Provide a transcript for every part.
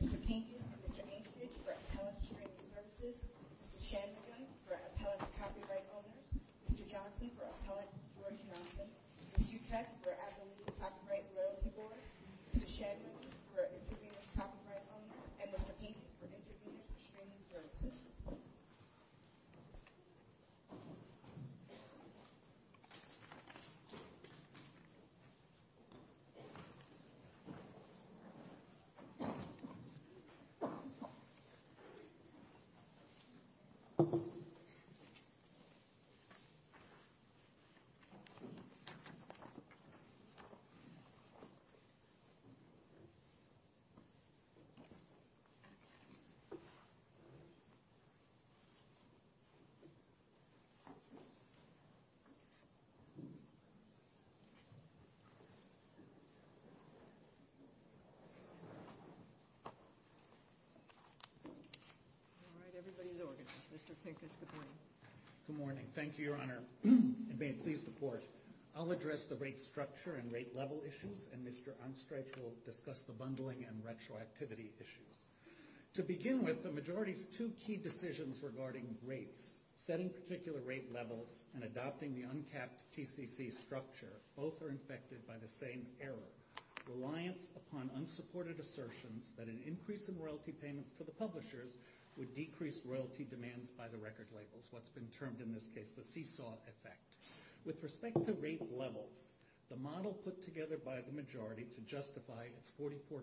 L. Mr. Kington for Appellate and Copyright Owners. Mr. Johnson for Appellate and Support Services. Mr. Schuchat for Appellate and Copyright Owners. Mr. Shadman for Interpreter and Copyright Owners. And Mr. Kington for Interpreter and Streaming Services. Thank you. All right, everybody's ordered. Mr. Kington's the point. Good morning. Thank you, Your Honor. And may it please the Court, I'll address the rate structure and rate level issues, and Mr. Unstretch will discuss the bundling and retroactivity issues. To begin with, the majority's two key decisions regarding rates, setting particular rate levels and adopting the uncapped TCC structure, both are infected by the same error, reliance upon unsupported assertions that an increase in royalty payments for the publishers would decrease royalty demands by the record labels, what's been termed in this case the seesaw effect. With respect to rate levels, the model put together by the majority to justify its 44%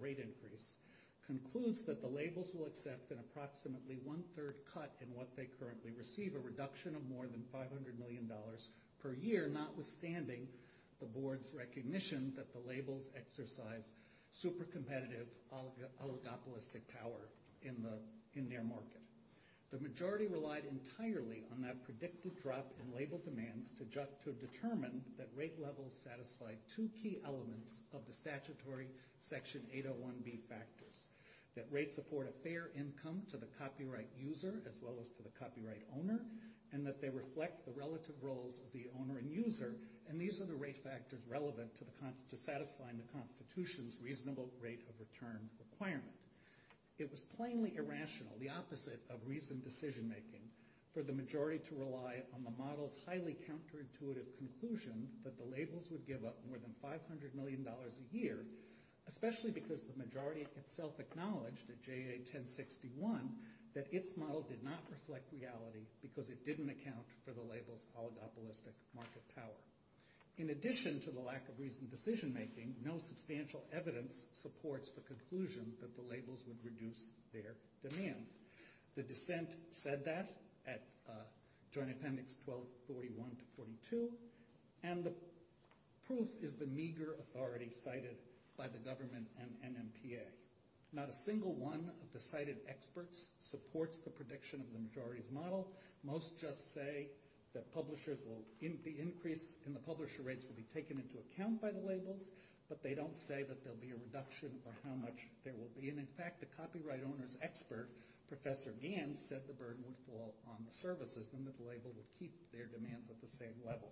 rate increase concludes that the labels will accept an approximately one-third cut in what they currently receive, a reduction of more than $500 million per year, notwithstanding the board's recognition that the labels exercise super competitive oligopolistic power in their market. The majority relied entirely on that predictive drug and label demand to determine that rate levels satisfied two key elements of the statutory Section 801B factors, that rates afford a fair income to the copyright user as well as to the copyright owner, and that they reflect the relative roles of the owner and user, and these are the rate factors relevant to satisfying the Constitution's reasonable rate of return requirement. It was plainly irrational, the opposite of reasoned decision-making, for the majority to rely on the model's highly counterintuitive conclusion that the labels would give up more than $500 million a year, especially because the majority itself acknowledged at JA 1061 that its model did not reflect reality because it didn't account for the label's oligopolistic market power. In addition to the lack of reasoned decision-making, no substantial evidence supports the conclusion that the labels would reduce their demand. The dissent said that at Joint Appendix 1241-42, and the proof is the meager authority cited by the government and NMPA. Not a single one of the cited experts supports the prediction of the majority's model. Most just say that the increase in the publisher rates will be taken into account by the labels, but they don't say that there'll be a reduction for how much there will be, and in fact, the copyright owner's expert, Professor Gann, said the burden would fall on the services and that the label would keep their demands at the same level.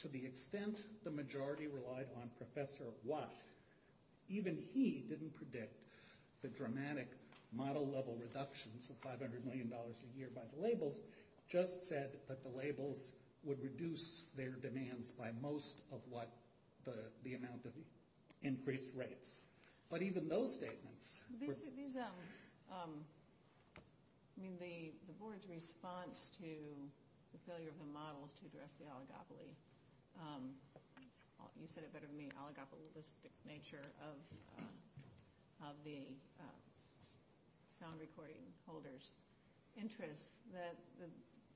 To the extent the majority relied on Professor Watts, even he didn't predict the dramatic model-level reductions of $500 million a year by the labels, just said that the labels would reduce their demands by most of what the amount of increased rates. But even those say things. The board's response to the failure of the models to address the oligopoly, you said it better than me, oligopolistic nature of the sound recording holders' interests, that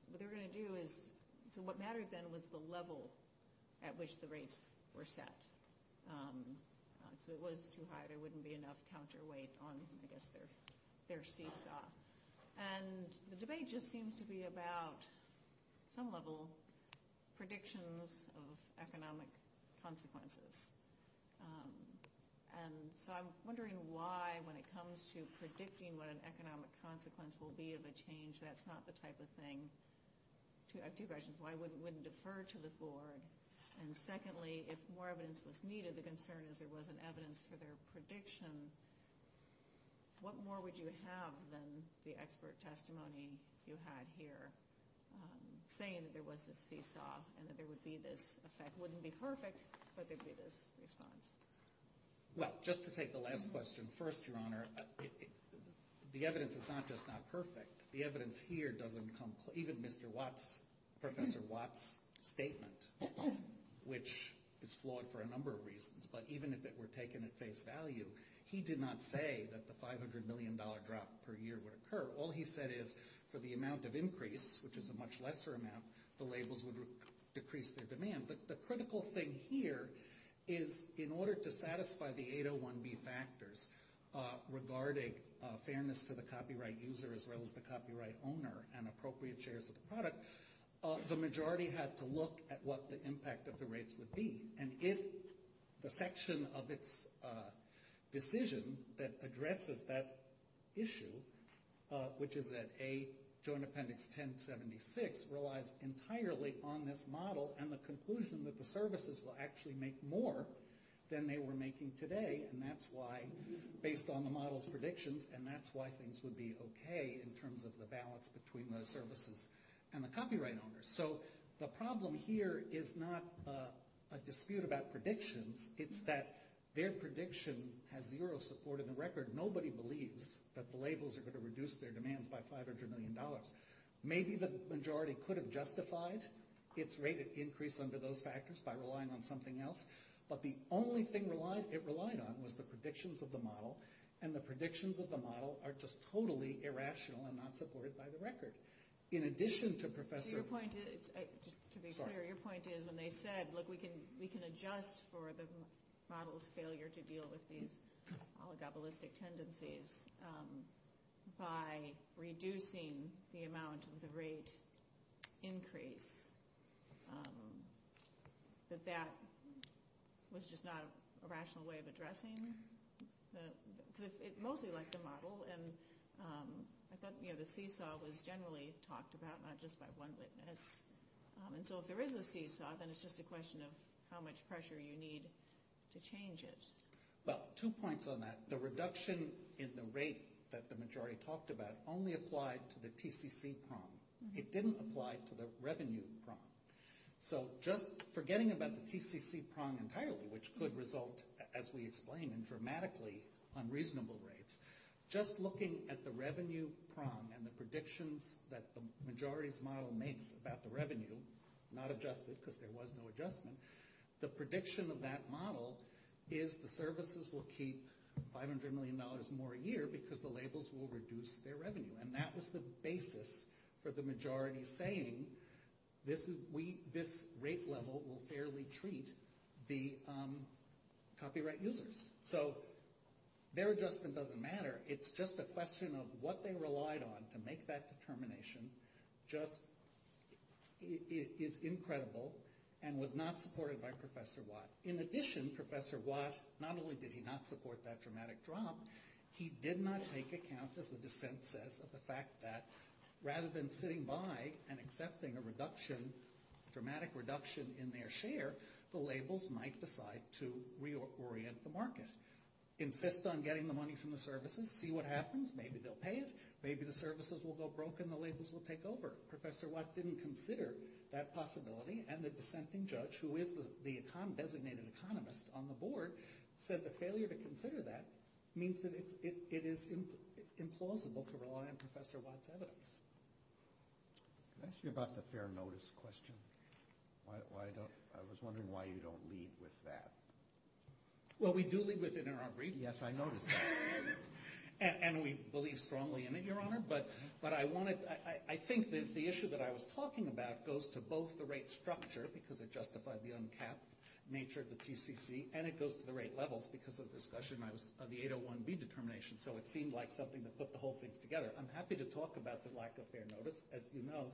what they were going to do is, so what mattered then was the level at which the rates were set. So it was too high, there wouldn't be enough counterweight on, I guess, their steep shot. And the debate just seems to be about, at some level, predictions of economic consequences. And so I'm wondering why, when it comes to predicting what an economic consequence will be of a change, that's not the type of thing, I have two questions. One is why wouldn't it defer to the board? And secondly, if more evidence was needed, the concern is there wasn't evidence for their prediction, what more would you have than the expert testimony you had here, saying that there wasn't a seesaw and that there would be this effect? It wouldn't be perfect, but there'd be this response. Well, just to take the last question first, Your Honor, the evidence is not just not perfect. The evidence here doesn't come, even Mr. Watts, Professor Watts' statement, which is flawed for a number of reasons, but even if it were taken at face value, he did not say that the $500 million drop per year would occur. All he said is, for the amount of increase, which is a much lesser amount, the labels would decrease their demand. The critical thing here is, in order to satisfy the 801B factors regarding fairness to the copyright user as well as the copyright owner and appropriate shares of the product, the majority has to look at what the impact of the rates would be. And if the section of this decision that addresses that issue, which is that A, zone appendix 1076, relies entirely on this model and the conclusion that the services will actually make more than they were making today, and that's why, based on the model's predictions, and that's why things would be okay in terms of the balance between the services and the copyright owners. So the problem here is not a dispute about prediction. It's that their prediction has zero support in the record. Nobody believes that the labels are going to reduce their demands by $500 million. Maybe the majority could have justified its rate of increase under those factors by relying on something else, but the only thing it relied on was the predictions of the model, and the predictions of the model are just totally irrational and not supported by the record. To be clear, your point is when they said, look, we can adjust for the model's failure to deal with these oligopolistic tendencies by reducing the amount of the rate increase, that that was just not a rational way of addressing it? It's mostly like the model, and I thought the seesaw was generally talked about, not just by one witness, and so if there is a seesaw, then it's just a question of how much pressure you need to change it. Two points on that. The reduction in the rate that the majority talked about only applied to the PCC prong. It didn't apply to the revenue prong. So just forgetting about the PCC prong entirely, which could result, as we explained, in dramatically unreasonable rates, just looking at the revenue prong and the predictions that the majority's model makes about the revenue, not adjusted because there was no adjustment, the prediction of that model is the services will keep $500 million more a year because the labels will reduce their revenue, and that was the basis for the majority saying this rate level will fairly treat the copyright users. So their adjustment doesn't matter. It's just a question of what they relied on to make that determination just is incredible and was not supported by Professor Watt. In addition, Professor Watt, not only did he not support that dramatic drop, he did not take account, as the dissent says, of the fact that rather than sitting by and accepting a dramatic reduction in their share, the labels might decide to reorient the market. In fits on getting the money from the services, see what happens. Maybe they'll pay us. Maybe the services will go broke and the labels will take over. Professor Watt didn't consider that possibility, and the dissenting judge, who is the designated economist on the board, said the failure to consider that means that it is implausible to rely on Professor Watt's evidence. Can I ask you about the fair notice question? I was wondering why you don't lead with that. Well, we do lead with interim relief. Yes, I noticed that. And we believe strongly in it, Your Honor. But I think that the issue that I was talking about goes to both the right structure, because it justified the uncapped nature of the TCC, and it goes to the right levels because of the discussion on the 801B determination. So it seemed like something that put the whole thing together. I'm happy to talk about the lack of fair notice. As you know,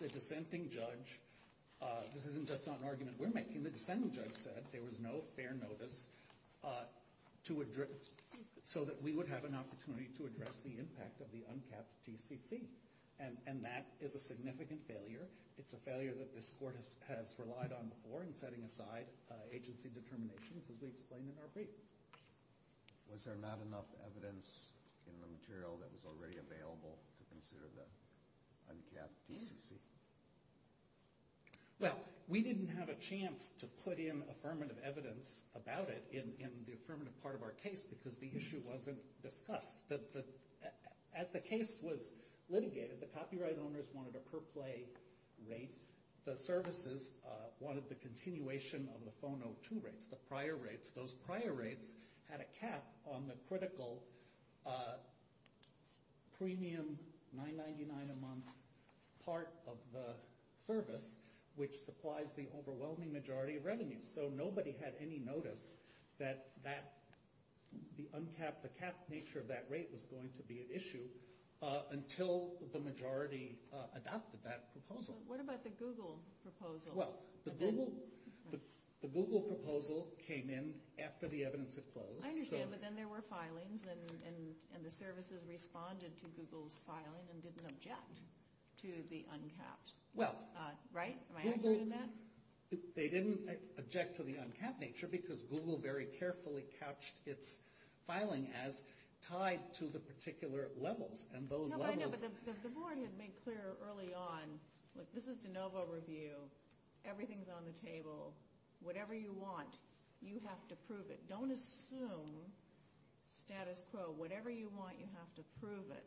the dissenting judge, this isn't just an argument we're making, the dissenting judge said there was no fair notice so that we would have an opportunity to address the impact of the uncapped TCC. And that is a significant failure. It's a failure that this Court has relied on before in setting aside agency determination, as we explained in our brief. Was there not enough evidence in the material that was already available to consider the uncapped TCC? Well, we didn't have a chance to put in affirmative evidence about it in the affirmative part of our case because the issue wasn't discussed. As the case was litigated, the copyright owners wanted a per-play rate. The services wanted the continuation of the phone-02 rates, the prior rates. Those prior rates had a cap on the critical premium $9.99 a month part of the service, which supplies the overwhelming majority of revenues. So nobody had any notice that the uncapped, the capped nature of that rate was going to be an issue until the majority adopted that proposal. What about the Google proposal? Well, the Google proposal came in after the evidence had closed. I understand, but then there were filings, and the services responded to Google's filing and didn't object to the uncapped. Well, they didn't object to the uncapped nature because Google very carefully couched its filing as tied to the particular level. The board had made clear early on that this is de novo review. Everything's on the table. Whatever you want, you have to prove it. Don't assume status quo. Whatever you want, you have to prove it.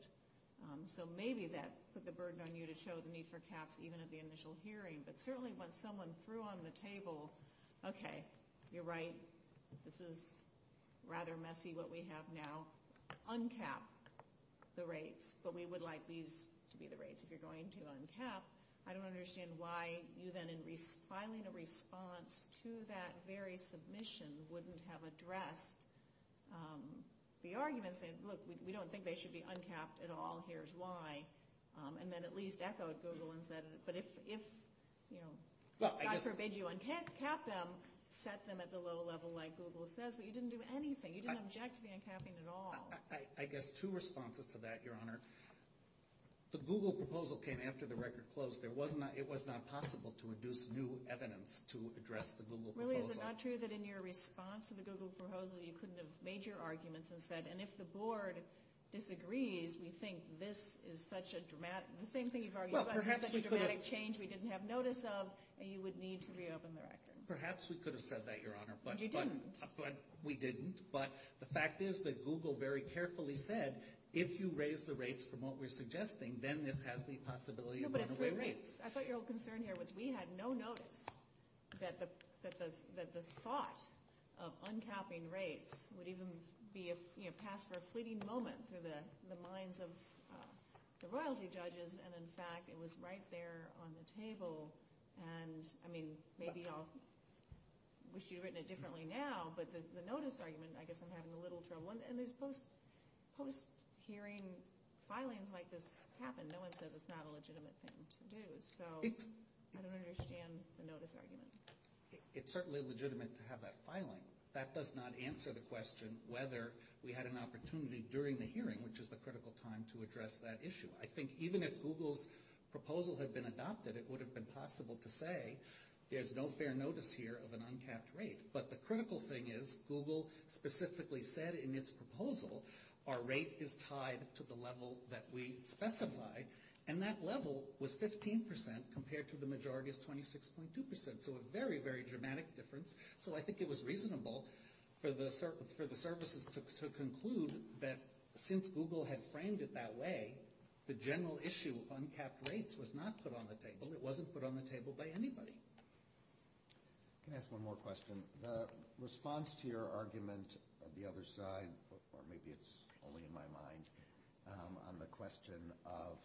So maybe that put the burden on you to show the need for caps even at the initial hearing, but certainly when someone threw on the table, okay, you're right, this is rather messy what we have now. Uncap the rates, but we would like these to be the rates if you're going to uncap. I don't understand why you then, in filing a response to that very submission, wouldn't have addressed the argument, saying, look, we don't think they should be uncapped at all, here's why, and then at least echoed Google and said it. I forbid you to uncap them, set them at the low level like Google says, but you didn't do anything. You didn't object to the uncapping at all. I guess two responses to that, Your Honor. The Google proposal came after the record closed. It was not possible to induce new evidence to address the Google proposal. Really, is it not true that in your response to the Google proposal, you couldn't have made your arguments and said, and if the board disagrees, we think this is such a dramatic, the same thing you've argued about, perhaps it's a dramatic change we didn't have notice of, and you would need to reopen the record. Perhaps we could have said that, Your Honor. But you didn't. We didn't, but the fact is that Google very carefully said, if you raise the rates from what we're suggesting, then this has the possibility of moving away rates. I thought your concern here was we had no notice that the thought of uncapping rates would even be passed for a fleeting moment through the minds of the royalty judges, and, in fact, it was right there on the table. And, I mean, maybe I'll wish you'd written it differently now, but the notice argument, I guess I'm having a little trouble. And these post-hearing filings like this happen. No one says it's not a legitimate thing to do. So I don't understand the notice argument. It's certainly legitimate to have that filing. That does not answer the question whether we had an opportunity during the hearing, which is the critical time, to address that issue. I think even if Google's proposal had been adopted, it would have been possible to say there's no fair notice here of an uncapped rate. But the critical thing is Google specifically said in its proposal our rate is tied to the level that we specified, and that level was 15% compared to the majority's 26.2%, so a very, very dramatic difference. So I think it was reasonable for the services to conclude that since Google had framed it that way, the general issue of uncapped rates was not put on the table. It wasn't put on the table by anybody. Can I ask one more question? The response to your argument on the other side, or maybe it's only in my mind, on the question of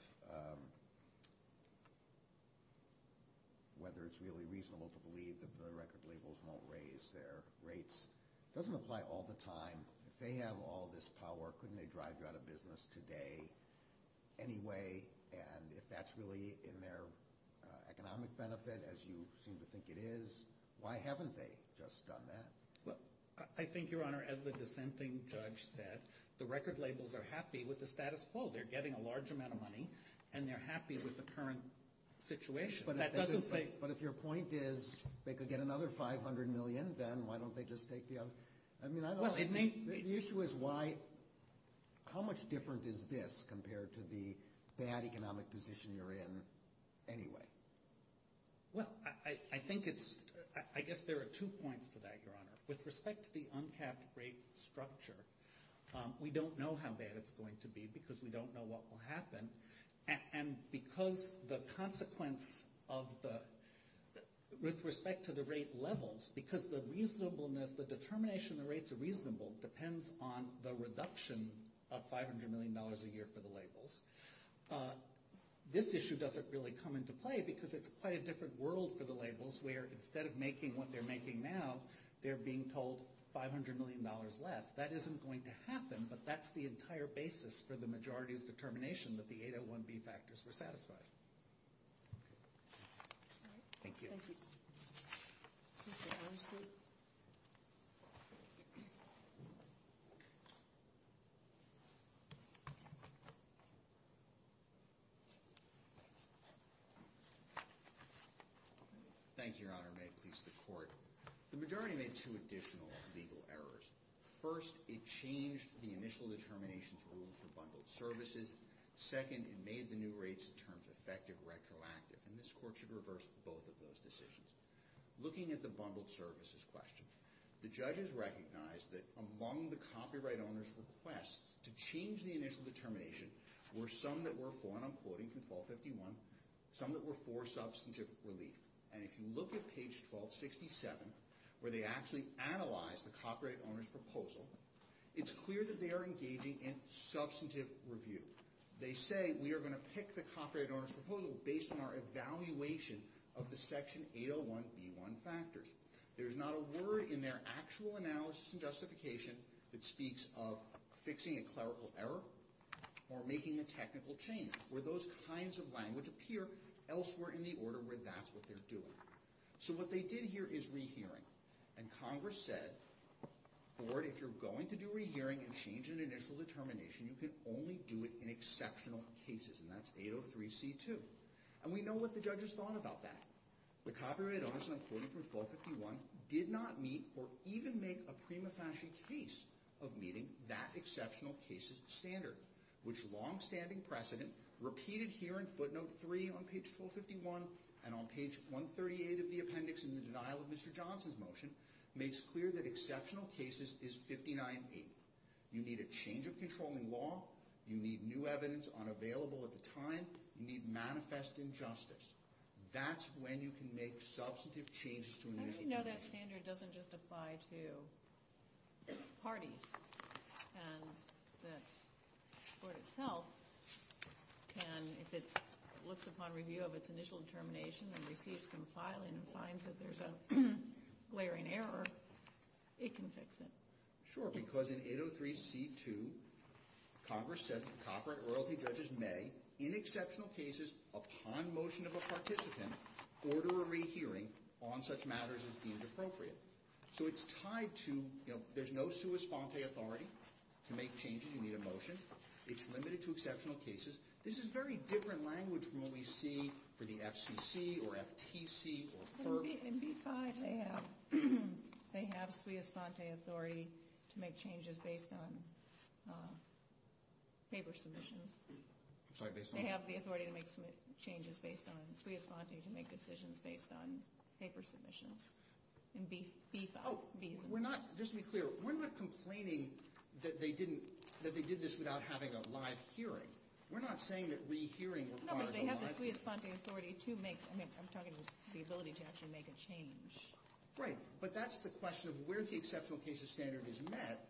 whether it's really reasonable to believe that the record labels won't raise their rates. It doesn't apply all the time. If they have all this power, couldn't they drive you out of business today anyway? And if that's really in their economic benefit, as you seem to think it is, why haven't they just done that? I think, Your Honor, as the dissenting judge said, the record labels are happy with the status quo. They're getting a large amount of money, and they're happy with the current situation. But if your point is they could get another $500 million then, why don't they just take the other? The issue is how much different is this compared to the bad economic position you're in anyway? Well, I think it's – I guess there are two points to that, Your Honor. With respect to the uncapped rate structure, we don't know how bad it's going to be because we don't know what will happen. And because the consequence of the – with respect to the rate levels, because the reasonableness, the determination of rates are reasonable depends on the reduction of $500 million a year for the labels. This issue doesn't really come into play because it's quite a different world for the labels, where instead of making what they're making now, they're being told $500 million less. That isn't going to happen, but that's the entire basis for the majority of the determination that the 801B factors were satisfied. Thank you. Thank you, Your Honor. May it please the Court. The majority made two additional legal errors. First, it changed the initial determination for bundled services. Second, it made the new rates in terms of effective retroactive. And this Court should reverse both of those decisions. Looking at the bundled services question, the judges recognized that among the copyright owner's requests to change the initial determination were some that were for, and I'm quoting from 1251, some that were for substantive relief. And if you look at page 1267, where they actually analyze the copyright owner's proposal, it's clear that they are engaging in substantive review. They say we are going to pick the copyright owner's proposal based on our evaluation of the Section 801B1 factors. There is not a word in their actual analysis and justification that speaks of fixing a clerical error or making a technical change, where those kinds of language appear elsewhere in the order where that's what they're doing. So what they did here is rehearing, and Congress said, Ford, if you're going to do a rehearing and change an initial determination, you can only do it in exceptional cases, and that's 803C2. And we know what the judges thought about that. The copyright owners, and I'm quoting from 1251, did not meet or even make a prima facie case of meeting that exceptional cases standard, which long-standing precedent, repeated here in footnote 3 on page 451 and on page 138 of the appendix in the denial of Mr. Johnson's motion, makes clear that exceptional cases is 59-8. You need a change of controlling law. You need new evidence unavailable at the time. You need manifest injustice. That's when you can make substantive changes to a new standard. No, that standard doesn't just apply to parties. And the court itself can, if it looks upon review of its initial determination and repeats from filing and finds that there's a glaring error, it can fix it. Sure, because in 803C2, Congress said that copyright royalty judges may, in exceptional cases, upon motion of a participant, order a rehearing on such matters as deemed appropriate. So it's tied to, you know, there's no sua sante authority to make changes in the emotion. It's limited to exceptional cases. This is very different language from what we see for the FCC or FTC or FERPA. In B-5, they have sua sante authority to make changes based on paper submissions. They have the authority to make changes based on sua sante to make decisions based on paper submissions. In B-5, B-5. Just to be clear, we're not complaining that they did this without having a live hearing. We're not saying that rehearing requires a live hearing. Sua sante authority to make, I'm talking about the ability to actually make a change. Right, but that's the question of where the exceptional cases standard is met.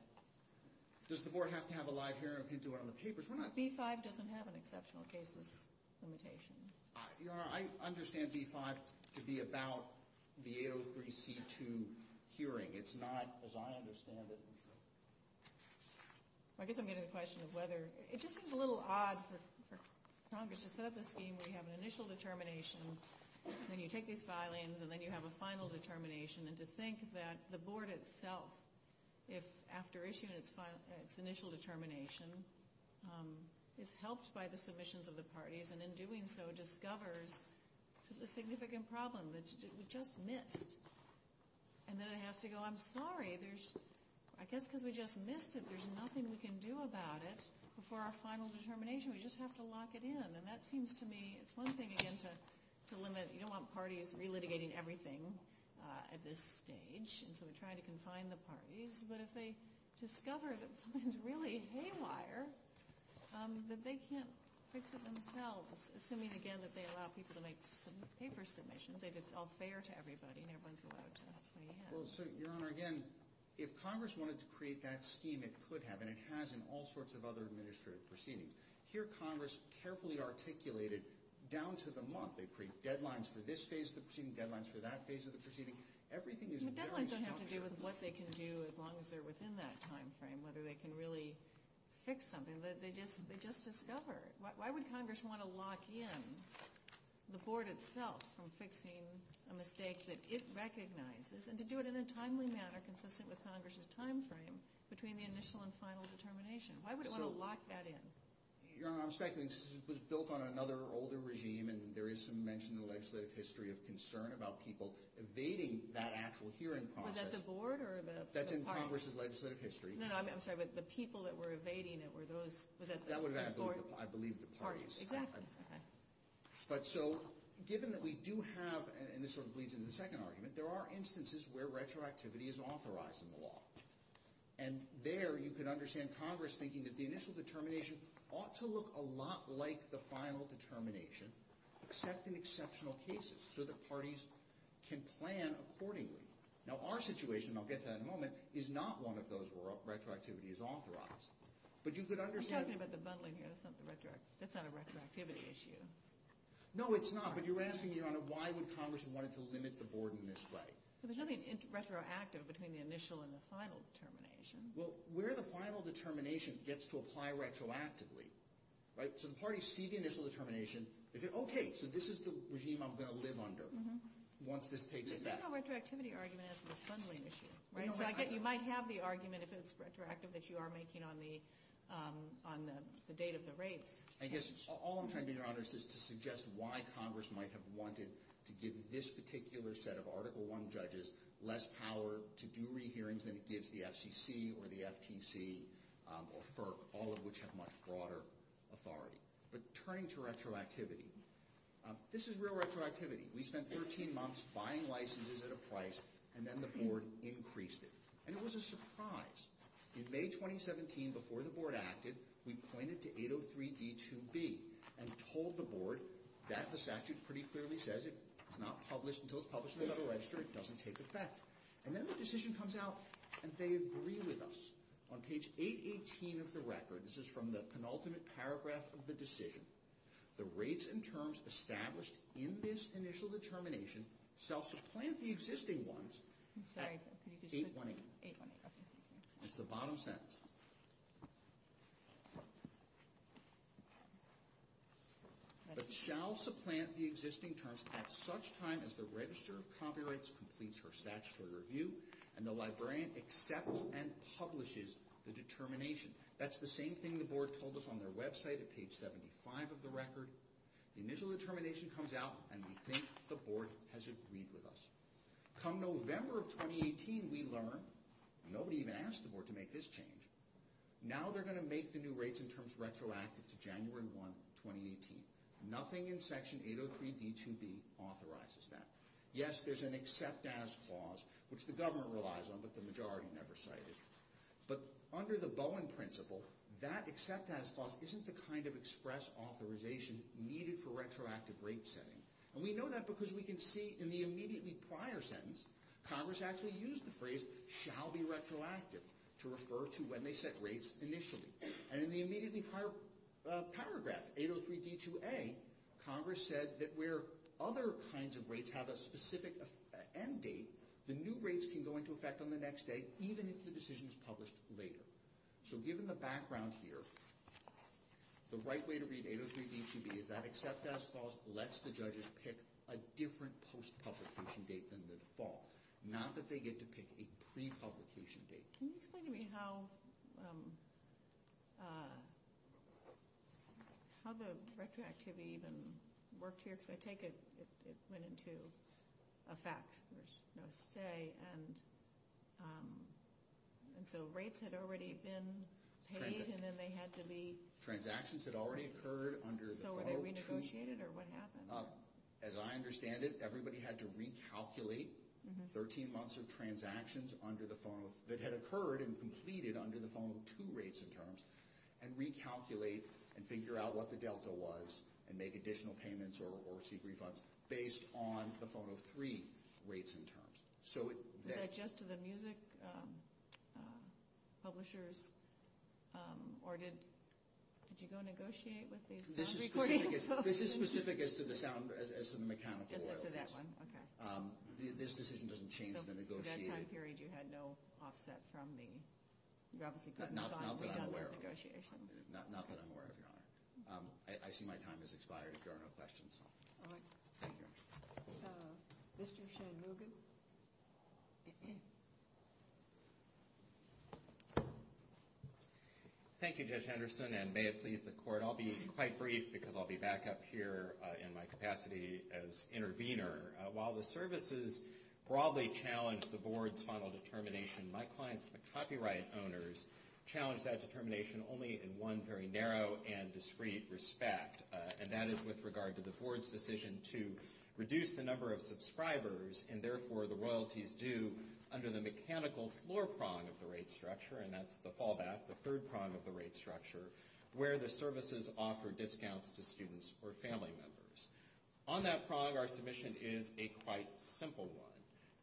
Does the board have to have a live hearing if you do it on the paper? B-5 doesn't have an exceptional cases limitation. Your Honor, I understand B-5 to be about the 803C2 hearing. It's not, as I understand it. I guess I'm getting the question of whether. It just seems a little odd for Congress to set up a scheme where you have an initial determination, then you take these filings, and then you have a final determination, and to think that the board itself, after issuing its initial determination, is helped by the submissions of the parties, and in doing so, discovers there's a significant problem that's just missed. And then I have to go, I'm sorry. I guess because we just missed it, there's nothing we can do about it. Before our final determination, we just have to lock it in. And that seems to me, it's one thing again to limit. You don't want parties relitigating everything at this stage, and so we try to confine the parties. But if they discover that something's really haywire, that they can't fix it themselves, assuming again that they allow people to make paper submissions, they just all say they're to everybody and everyone's allowed to. So, Your Honor, again, if Congress wanted to create that scheme, it could have, and it has in all sorts of other administrative proceedings. Here, Congress carefully articulated down to the month. They create deadlines for this phase of the proceeding, deadlines for that phase of the proceeding. Everything is very short. The deadlines don't have to do with what they can do as long as they're within that time frame, whether they can really fix something. They just discover. Why would Congress want to lock in the Board itself from fixing a mistake that it recognizes, and to do it in a timely manner consistent with Congress's time frame between the initial and final determination? Why would it want to lock that in? Your Honor, I'm speculating. This was built on another older regime, and there is some mention in the legislative history of concern about people evading that actual hearing process. Was that the Board or the Congress? That's in Congress's legislative history. No, no, I'm sorry, but the people that were evading it were those— I believe the parties. Exactly. But so, given that we do have, and this sort of leads into the second argument, there are instances where retroactivity is authorized in the law, and there you can understand Congress thinking that the initial determination ought to look a lot like the final determination, except in exceptional cases so that parties can plan accordingly. Now, our situation, and I'll get to that in a moment, is not one of those where retroactivity is authorized, but you could understand— You're talking about the bundling here. That's not a retroactivity issue. No, it's not, but you're asking, Your Honor, why would Congress want to limit the Board in this way? Because I mean, it's retroactive between the initial and the final determination. Well, where the final determination gets to apply retroactively, right? So the parties see the initial determination. Okay, so this is the regime I'm going to live under once this takes effect. The retroactivity argument is a bundling issue, right? Exactly. I have the argument, if it's retroactive, that you are making on the date of the rate. I guess all I'm trying to do, Your Honor, is to suggest why Congress might have wanted to give this particular set of Article I judges less power to do re-hearings than it gives the FCC or the FTC or FERC, all of which have much broader authority. But turning to retroactivity, this is real retroactivity. We spent 13 months buying licenses at a price, and then the Board increased it. And it was a surprise. In May 2017, before the Board acted, we pointed to 803D2B and told the Board that this act pretty clearly says it's not published until it's published in the Federal Register and it doesn't take effect. And then the decision comes out, and they agree with us. On page 818 of the record, this is from the penultimate paragraph of the decision, The rates and terms established in this initial determination shall supplant the existing ones at such time as the Register of Copyrights completes her statutory review and the Librarian accepts and publishes the determination. That's the same thing the Board told us on their website at page 75 of the record. The initial determination comes out, and we think the Board has agreed with us. Come November of 2018, we learn nobody even asked the Board to make this change. Now they're going to make the new rates and terms retroactive to January 1, 2018. Nothing in Section 803D2B authorizes that. Yes, there's an accept-as clause, which the government relies on, but the majority never cite it. But under the Bowen principle, that accept-as clause isn't the kind of express authorization needed for retroactive rate setting. And we know that because we can see in the immediately prior sentence, Congress actually used the phrase, shall be retroactive, to refer to when they set rates initially. And in the immediately prior paragraph, 803D2A, Congress said that where other kinds of rates have a specific end date, the new rates can go into effect on the next day, even if the decision is published later. So given the background here, the right way to read 803D2B is that accept-as clause lets the judges pick a different post-publication date than the default, not that they get to pick a pre-publication date. Can you explain to me how the retroactivity even worked here? Because I take it it went into effect. There's no stay, and so rates had already been paid, and then they had to leave. Transactions had already occurred under the formal treaty. So were they renegotiated, or what happened? As I understand it, everybody had to recalculate 13 months of transactions that had occurred and completed under the Formal 2 rates and terms, and recalculate and figure out what the delta was and make additional payments or seek refunds based on the Formal 3 rates and terms. Did that just to the music publishers, or did you go negotiate with the sound recording? This is specific as to the mechanical error. As to that one? Okay. This decision doesn't change the negotiation. So during that time period, you had no offset from the gravity-cutting shock of the negotiation? Not that I'm aware of, Your Honor. I see my time has expired if there are no questions. All right. Mr. Shanmugam? Thank you, Judge Henderson and may it please the Court. I'll be quite brief because I'll be back up here in my capacity as intervener. While the services broadly challenged the Board's final determination, my clients, the copyright owners, challenged that determination only in one very narrow and discreet respect, and that is with regard to the Board's decision to reduce the number of subscribers, and therefore the royalties due under the mechanical floor prong of the rate structure, and that's the fallback, the third prong of the rate structure, where the services offer discounts to students or family members. On that prong, our submission is a quite simple one.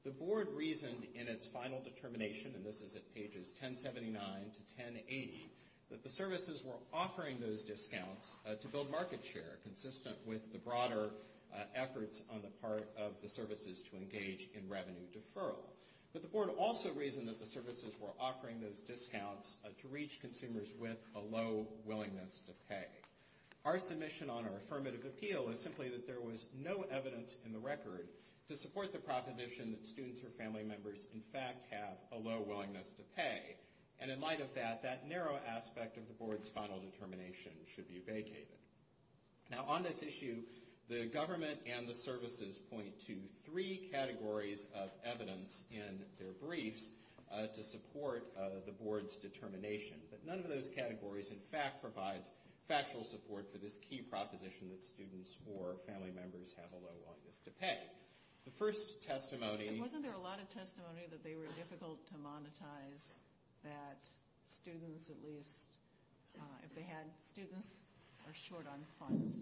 The Board reasoned in its final determination, and this is at pages 1079 to 1080, that the services were offering those discounts to build market share, consistent with the broader efforts on the part of the services to engage in revenue deferral. But the Board also reasoned that the services were offering those discounts to reach consumers with a low willingness to pay. Our submission on our affirmative appeal is simply that there was no evidence in the record to support the proposition that students or family members in fact have a low willingness to pay, and in light of that, that narrow aspect of the Board's final determination should be vacated. Now, on this issue, the government and the services point to three categories of evidence in their briefs to support the Board's determination, but none of those categories in fact provide factual support for this key proposition that students or family members have a low willingness to pay. The first testimony... If they had students, they're short on funds.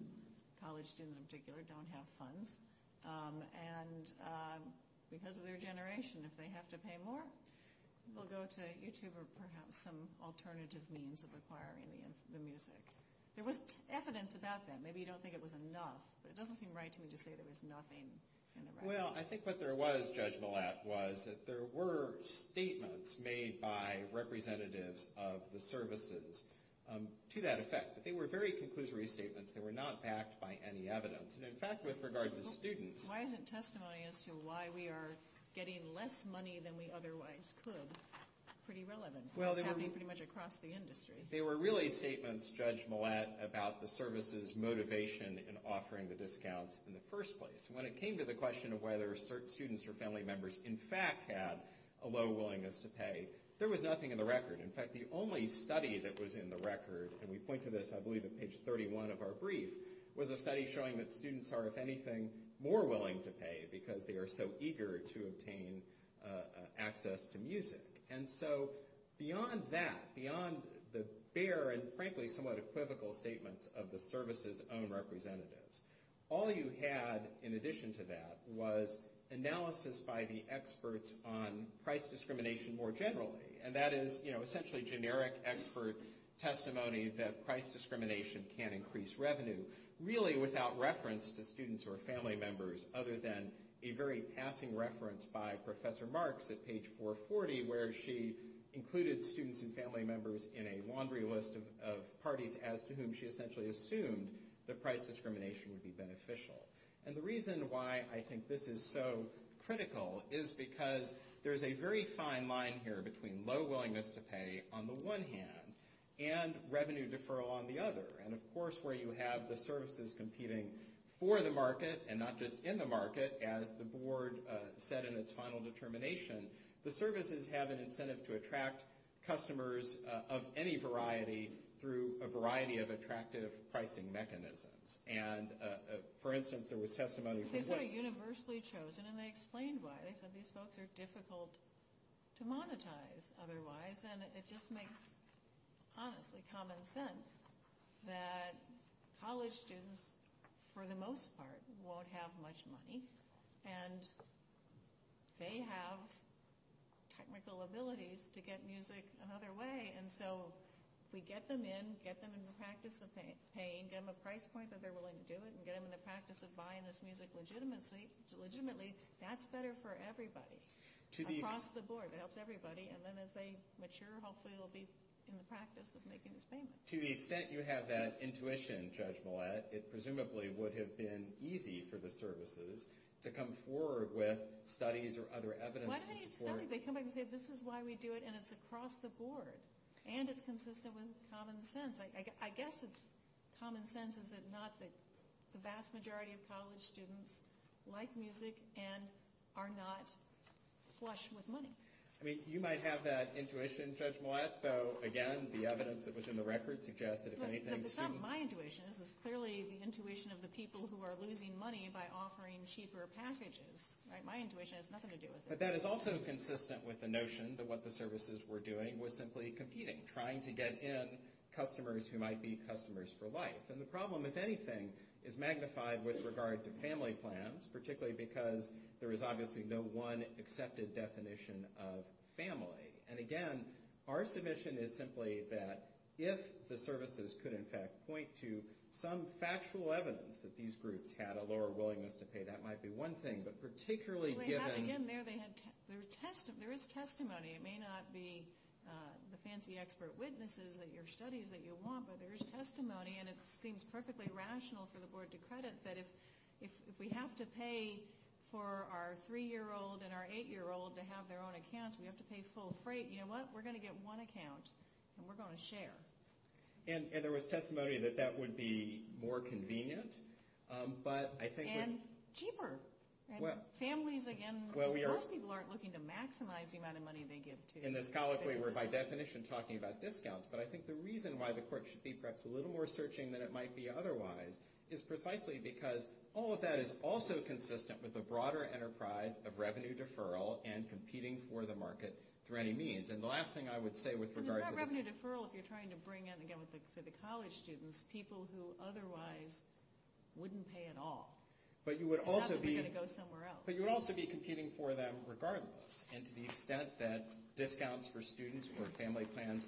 College students in particular don't have funds. And because of their generation, if they have to pay more, they'll go to YouTube or perhaps some alternative means of acquiring the music. There was evidence about that. Maybe you don't think it was enough, but it doesn't seem right to me to say there was nothing in the record. Well, I think what there was, Judge Millett, was that there were statements made by representatives of the services to that effect, but they were very conclusory statements. They were not backed by any evidence. In fact, with regard to students... Why isn't testimony as to why we are getting less money than we otherwise could pretty relevant? Well, they were... It would be pretty much across the industry. They were really statements, Judge Millett, about the services' motivation in offering the discount in the first place. When it came to the question of whether students or family members in fact had a low willingness to pay, there was nothing in the record. In fact, the only study that was in the record, and we point to this, I believe, at page 31 of our brief, was a study showing that students are, if anything, more willing to pay because they are so eager to obtain access to music. And so beyond that, beyond the bare and, frankly, somewhat equivocal statements of the services' own representatives, all you had in addition to that was analysis by the experts on price discrimination more generally, and that is essentially generic expert testimony that price discrimination can increase revenue, really without reference to students or family members other than a very passing reference by Professor Marks at page 440 where she included students and family members in a laundry list of parties as to whom she essentially assumed the price discrimination would be beneficial. And the reason why I think this is so critical is because there's a very fine line here between low willingness to pay on the one hand and revenue deferral on the other. And, of course, where you have the services competing for the market and not just in the market, as the board said in its final determination, the services have an incentive to attract customers of any variety through a variety of attractive pricing mechanisms. And, for instance, there was testimony from the… These are universally chosen, and they explain why. They said these folks are difficult to monetize otherwise, and it just makes honestly common sense that college students, for the most part, won't have much money, and they have technical abilities to get music another way. And so if we get them in, get them in the practice of paying, get them a price point that they're willing to do it, and get them in the practice of buying this music legitimately, that's better for everybody. Across the board, it helps everybody. And then as they mature, hopefully they'll be in the practice of making this payment. To the extent you have that intuition, Judge Millett, it presumably would have been easy for the services to come forward with studies or other evidence to support… They come back and say, this is why we do it, and it's across the board, and it's consistent with common sense. I guess it's common sense, is it not, that the vast majority of college students like music and are not flush with money. I mean, you might have that intuition, Judge Millett. So, again, the evidence that was in the record suggests that if anything… But it's not my intuition. It was clearly the intuition of the people who are losing money by offering cheaper packages. My intuition has nothing to do with it. But that is also consistent with the notion that what the services were doing was simply competing, trying to get in customers who might be customers for life. And the problem, if anything, is magnified with regard to family plans, particularly because there is obviously no one accepted definition of family. And, again, our submission is simply that if the services could, in fact, point to some factual evidence that these groups had a lower willingness to pay, that might be one thing. Again, there is testimony. It may not be the fancy expert witnesses at your studies that you want, but there is testimony, and it seems perfectly rational for the board to credit that if we have to pay for our 3-year-old and our 8-year-old to have their own accounts, we have to pay full freight. You know what? We're going to get one account, and we're going to share. And there was testimony that that would be more convenient. And cheaper. And families, again, most people aren't looking to maximize the amount of money they give to families. In this colloquy, we're, by definition, talking about discounts. But I think the reason why the court should be perhaps a little more searching than it might be otherwise is precisely because all of that is also consistent with the broader enterprise of revenue deferral and competing for the market through any means. And the last thing I would say with regard to this. It's not revenue deferral if you're trying to bring in, again, for the college students, people who otherwise wouldn't pay at all. But you would also be competing for them regardless. And to the extent that discounts for students or family plans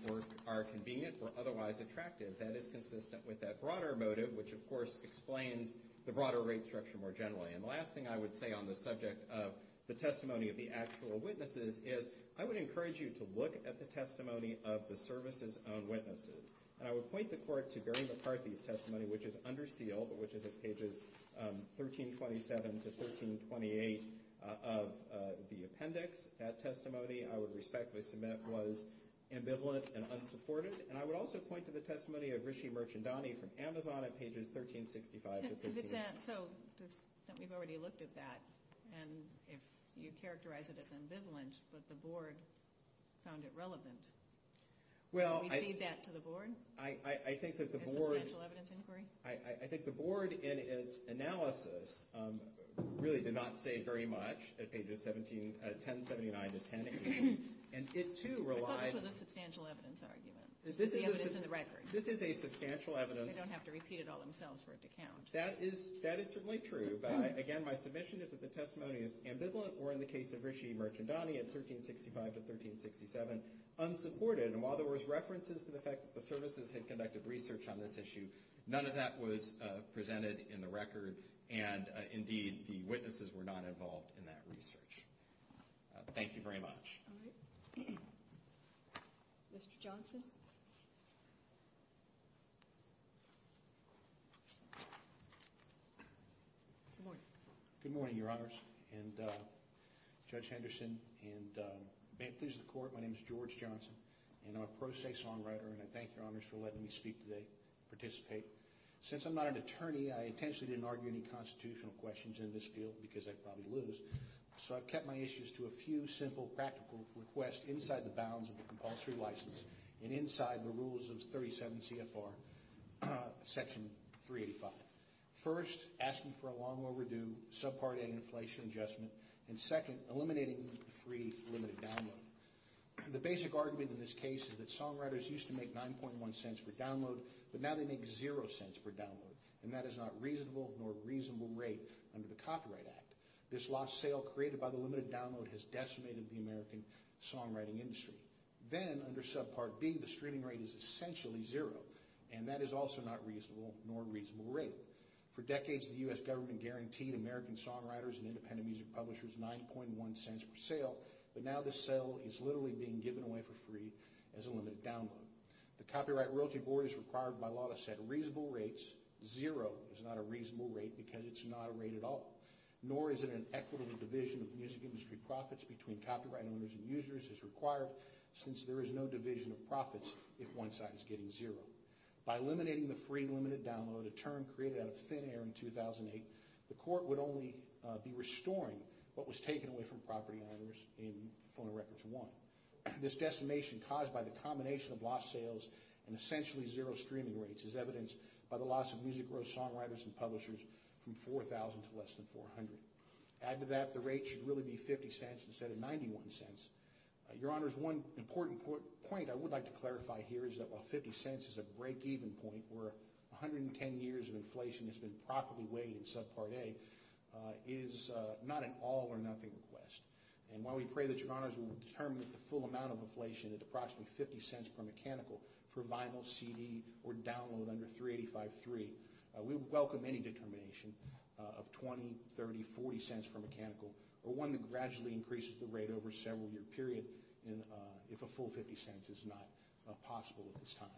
are convenient or otherwise attractive, that is consistent with that broader motive, which, of course, explains the broader rate structure more generally. And the last thing I would say on the subject of the testimony of the actual witnesses is I would encourage you to look at the testimony of the services on witnesses. I would point the court to Gary McCarthy's testimony, which is under sealed, but which is at pages 1327 to 1328 of the appendix. That testimony, I would respectfully submit, was ambivalent and unsupported. And I would also point to the testimony of Rishi Merchandani from Amazon at pages 1365 to 1368. So we've already looked at that. And if you characterize it as ambivalent, but the board found it relevant. Well, I think that the board in its analysis really did not say very much at pages 1079 to 1080. And it, too, relies on the substantial evidence argument. This is a substantial evidence. They don't have to repeat it all themselves for it to count. That is certainly true. But, again, my submission is that the testimony is ambivalent or, in the case of Rishi Merchandani at 1365 to 1367, unsupported. And while there was references to the fact that the services had conducted research on this issue, none of that was presented in the record. And, indeed, the witnesses were not involved in that research. Thank you very much. Mr. Johnson. Good morning, Your Honors. And Judge Henderson. And may it please the Court, my name is George Johnson. And I'm a pro se songwriter. And I thank Your Honors for letting me speak today, participate. Since I'm not an attorney, I intentionally didn't argue any constitutional questions in this field because I'd probably lose. So I've kept my issues to a few simple practical requests inside the bounds of the compulsory license and inside the rules of 37 CFR Section 385. First, asking for a long overdue subpart A inflation adjustment. And second, eliminating free limited download. The basic argument in this case is that songwriters used to make 9.1 cents per download, but now they make zero cents per download. And that is not reasonable nor reasonable rate under the Copyright Act. This lost sale created by the limited download has decimated the American songwriting industry. Then, under subpart B, the streaming rate is essentially zero. And that is also not reasonable nor reasonable rate. For decades, the U.S. government guaranteed American songwriters and independent music publishers 9.1 cents per sale. But now this sale is literally being given away for free as a limited download. The Copyright Royalty Board is required by law to set reasonable rates. Zero is not a reasonable rate because it's not a rate at all. Nor is it an equitable division of music industry profits between copyright owners and users as required, since there is no division of profits if one side is getting zero. By eliminating the free limited download, a term created out of thin air in 2008, the court would only be restoring what was taken away from property owners in Formal Records I. This decimation caused by the combination of lost sales and essentially zero streaming rates is evidenced by the loss of music or songwriters and publishers from 4,000 to less than 400. Add to that the rate should really be 50 cents instead of 91 cents. Your Honors, one important point I would like to clarify here is that while 50 cents is a break-even point where 110 years of inflation has been properly weighed in Subpart A, it is not an all-or-nothing request. And while we pray that Your Honors will determine the full amount of inflation that's approximately 50 cents per mechanical for vinyl, CD, or download under 3853, we welcome any determination of 20, 30, 40 cents per mechanical or one that gradually increases the rate over a several-year period if a full 50 cents is not possible at this time.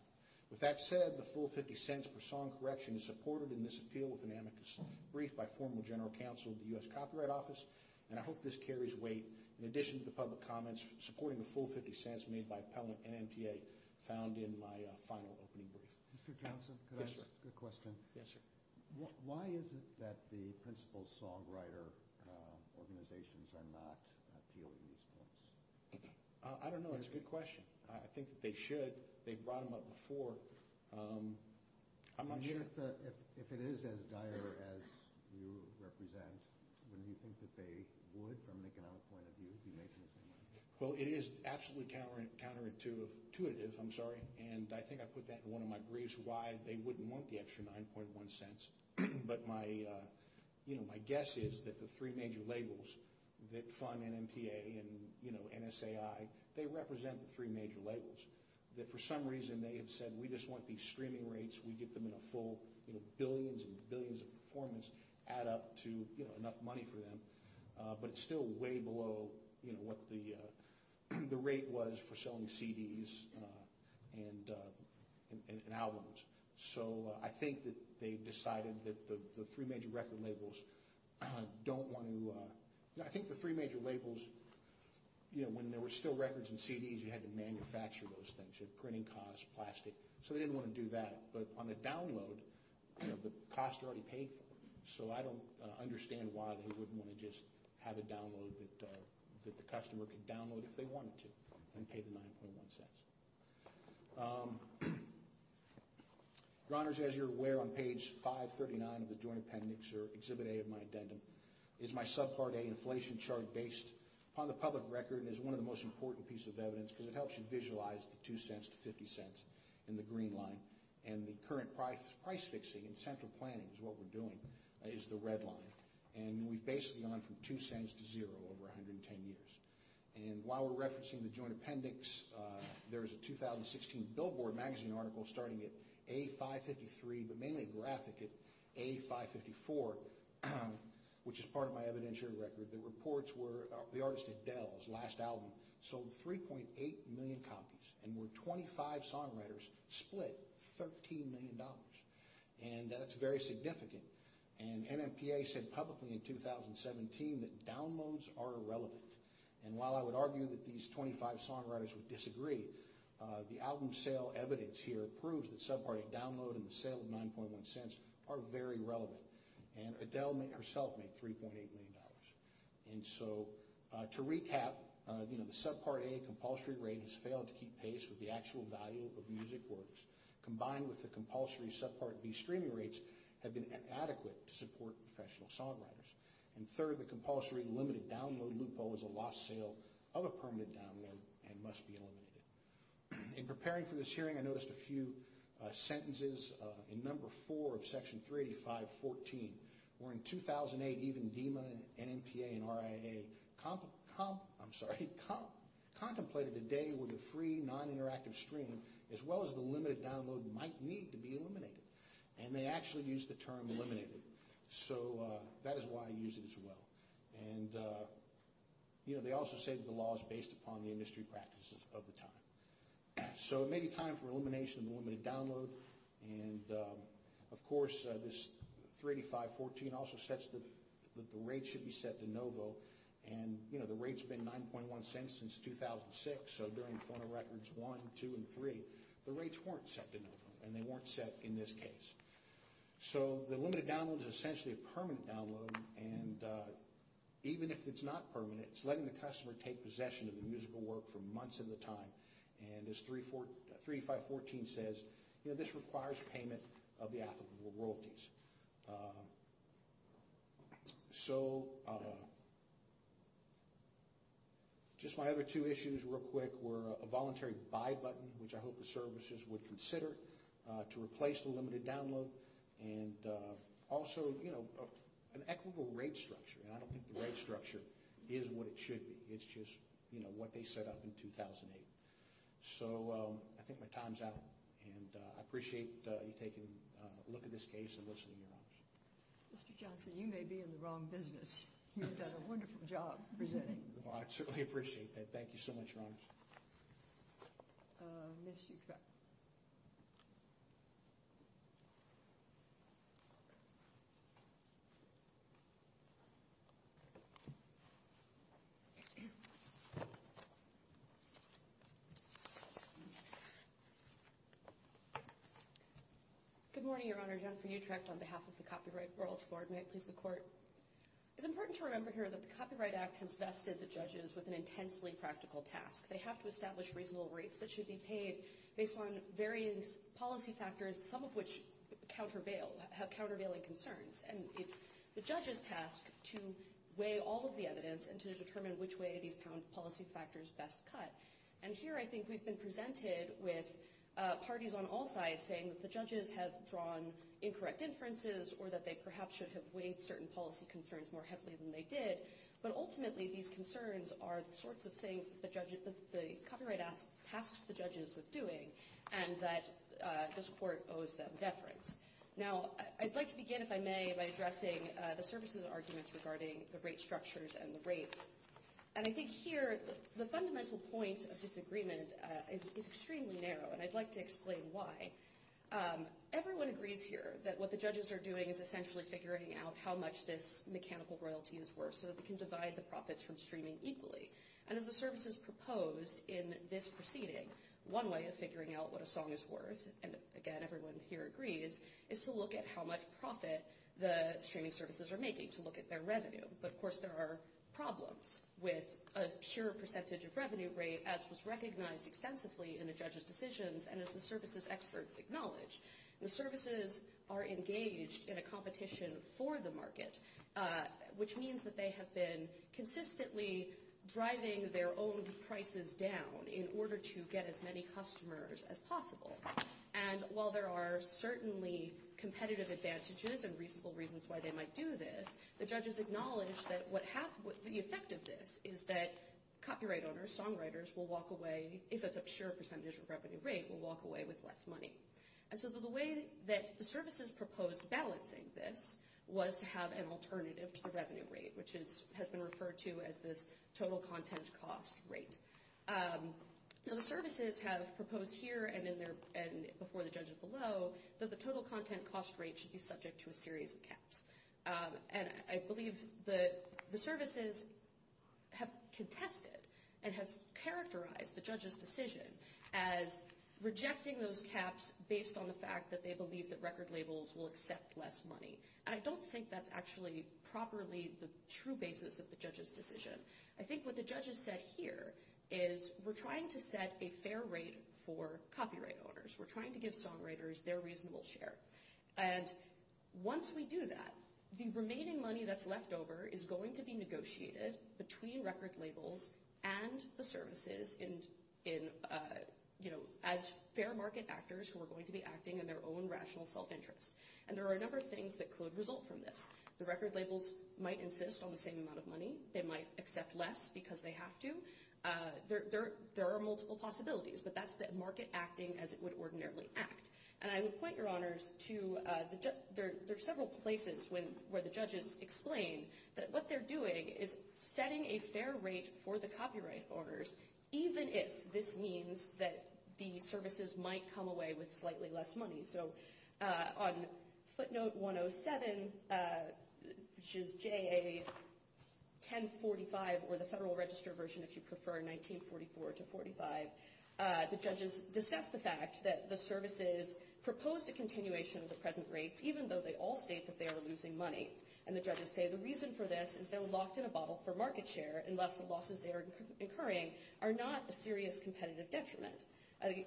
With that said, the full 50 cents per song correction is supported in this appeal with an amicus brief by Formal General Counsel of the U.S. Copyright Office, and I hope this carries weight in addition to the public comments supporting the full 50 cents made by Pelham and NPA found in my final opening brief. Mr. Johnson, can I ask a question? Yes, sir. Why is it that the principal songwriter organizations are not appealing these costs? I don't know. It's a good question. I think that they should. They brought them up before. If it is as dire as you represent, do you think that they would, from an economic point of view, be making the same money? Well, it is absolutely counterintuitive, and I think I put that in one of my briefs, that they wouldn't want the extra 9.1 cents, but my guess is that the three major labels that fund NPA and NSAI, they represent the three major labels. That for some reason they have said, we just want these streaming rates, we get them in a full billions and billions of performance, add up to enough money for them, but still way below what the rate was for selling CDs and albums. So I think that they've decided that the three major record labels don't want to... I think the three major labels, when there were still records and CDs, you had to manufacture those things, printing cost, plastic. So they didn't want to do that. But on the download, the costs are already paid for. So I don't understand why they wouldn't want to just have a download that the customer could download if they wanted to and pay the 9.1 cents. Your Honors, as you're aware, on page 539 of the Joint Appendix, or Exhibit A of my addendum, is my subpart A inflation chart based upon the public record, and is one of the most important pieces of evidence, because it helps you visualize the 2 cents to 50 cents in the green line. And the current price fixing and central planning is what we're doing is the red line. And we've basically gone from 2 cents to zero over 110 years. And while we're referencing the Joint Appendix, there's a 2016 Billboard magazine article starting at A553, but mainly graphic at A554, which is part of my evidentiary record. The reports were the artist Adele's last album sold 3.8 million copies and where 25 songwriters split $13 million. And that's very significant. And NMPA said publicly in 2017 that downloads are irrelevant. And while I would argue that these 25 songwriters would disagree, the album sale evidence here proves that subpart A download and the sale of 9.1 cents are very relevant. And Adele herself made $3.8 million. And so to recap, you know, the subpart A compulsory rate has failed to keep pace with the actual value of music orders. Combined with the compulsory subpart B streaming rates have been inadequate to support professional songwriters. And third, the compulsory limited download loophole is a lost sale of a permanent download and must be eliminated. In preparing for this hearing, I noticed a few sentences. In number four of section 385.14, where in 2008 even DEMA and NMPA and RIA contemplated the data with a free non-interactive stream as well as the limited download might need to be eliminated. And they actually used the term eliminated. So that is why I use it as well. And, you know, they also said the law is based upon the industry practices of the time. So it may be time for elimination of the limited download. And, of course, this 385.14 also says that the rate should be set to no vote. And, you know, the rate's been 9.1 cents since 2006. So during the former records one, two, and three, the rates weren't set to no vote. And they weren't set in this case. So the limited download is essentially a permanent download. And even if it's not permanent, it's letting the customer take possession of the musical work for months at a time. And this 385.14 says, you know, this requires payment of the applicable royalties. So just my other two issues real quick were a voluntary buy button, which I hope the services would consider to replace the limited download, and also, you know, an equitable rate structure. And I don't think the rate structure is what it should be. It's just, you know, what they set up in 2008. So I think my time's up. And I appreciate you taking a look at this case and listening to it. Mr. Johnson, you may be in the wrong business. You did a wonderful job presenting. Well, I certainly appreciate that. Thank you so much. Ms. Utrecht. Good morning, Your Honor. Jennifer Utrecht on behalf of the Copyright World Court. May it please the Court. It's important to remember here that the Copyright Act has vested the judges with an intensely practical task. They have to establish reasonable rates that should be paid based on various policy factors, some of which have countervailing concerns. And it's the judge's task to weigh all of the evidence and to determine which way these policy factors best cut. And here I think we've been presented with parties on all sides saying that the judges have drawn incorrect inferences or that they perhaps should have weighed certain policy concerns more heavily than they did. But ultimately, these concerns are the sorts of things that the Copyright Act asks the judges of doing and that this Court owes them deference. Now, I'd like to begin, if I may, by addressing the services arguments regarding the rate structures and the rates. And I think here the fundamental point of this agreement is extremely narrow, and I'd like to explain why. Everyone agrees here that what the judges are doing is essentially figuring out how much this mechanical royalty is worth, so that we can divide the profits from streaming equally. And if the services proposed in this proceeding, one way of figuring out what a song is worth, and again, everyone here agrees, is to look at how much profit the streaming services are making, to look at their revenue. But, of course, there are problems with a sheer percentage of revenue rate, as was recognized extensively in the judges' decisions and as the services experts acknowledged. The services are engaged in a competition for the market, which means that they have been consistently driving their own prices down in order to get as many customers as possible. And while there are certainly competitive advantages and reasonable reasons why they might do this, the judges acknowledge that the effect of this is that copyright owners, songwriters, will walk away, if there's a sheer percentage of revenue rate, will walk away with less money. And so the way that the services proposed balancing this was to have an alternative to the revenue rate, which has been referred to as the total content cost rate. So the services have proposed here and before the judges below that the total content cost rate should be subject to a series of caps. And I believe the services have contested and have characterized the judges' decision as rejecting those caps based on the fact that they believe that record labels will accept less money. And I don't think that's actually properly the true basis of the judges' decision. I think what the judges said here is we're trying to set a fair rate for copyright owners. We're trying to give songwriters their reasonable share. And once we do that, the remaining money that's left over is going to be negotiated between record labels and the services as fair market actors who are going to be acting in their own rational self-interest. And there are a number of things that could result from this. The record labels might insist on the same amount of money. They might accept less because they have to. There are multiple possibilities, but that's the market acting as it would ordinarily act. And I would point your honors to there are several places where the judges explain that what they're doing is setting a fair rate for the copyright owners, even if this means that the services might come away with slightly less money. So on footnote 107, which is JA 1045, or the Federal Register version, if you prefer, 1944 to 45, the judges discuss the fact that the services proposed a continuation of the present rates, even though they all state that they are losing money. And the judges say the reason for this is their loss in a bottle for market share and less the losses they are incurring are not a serious competitive detriment.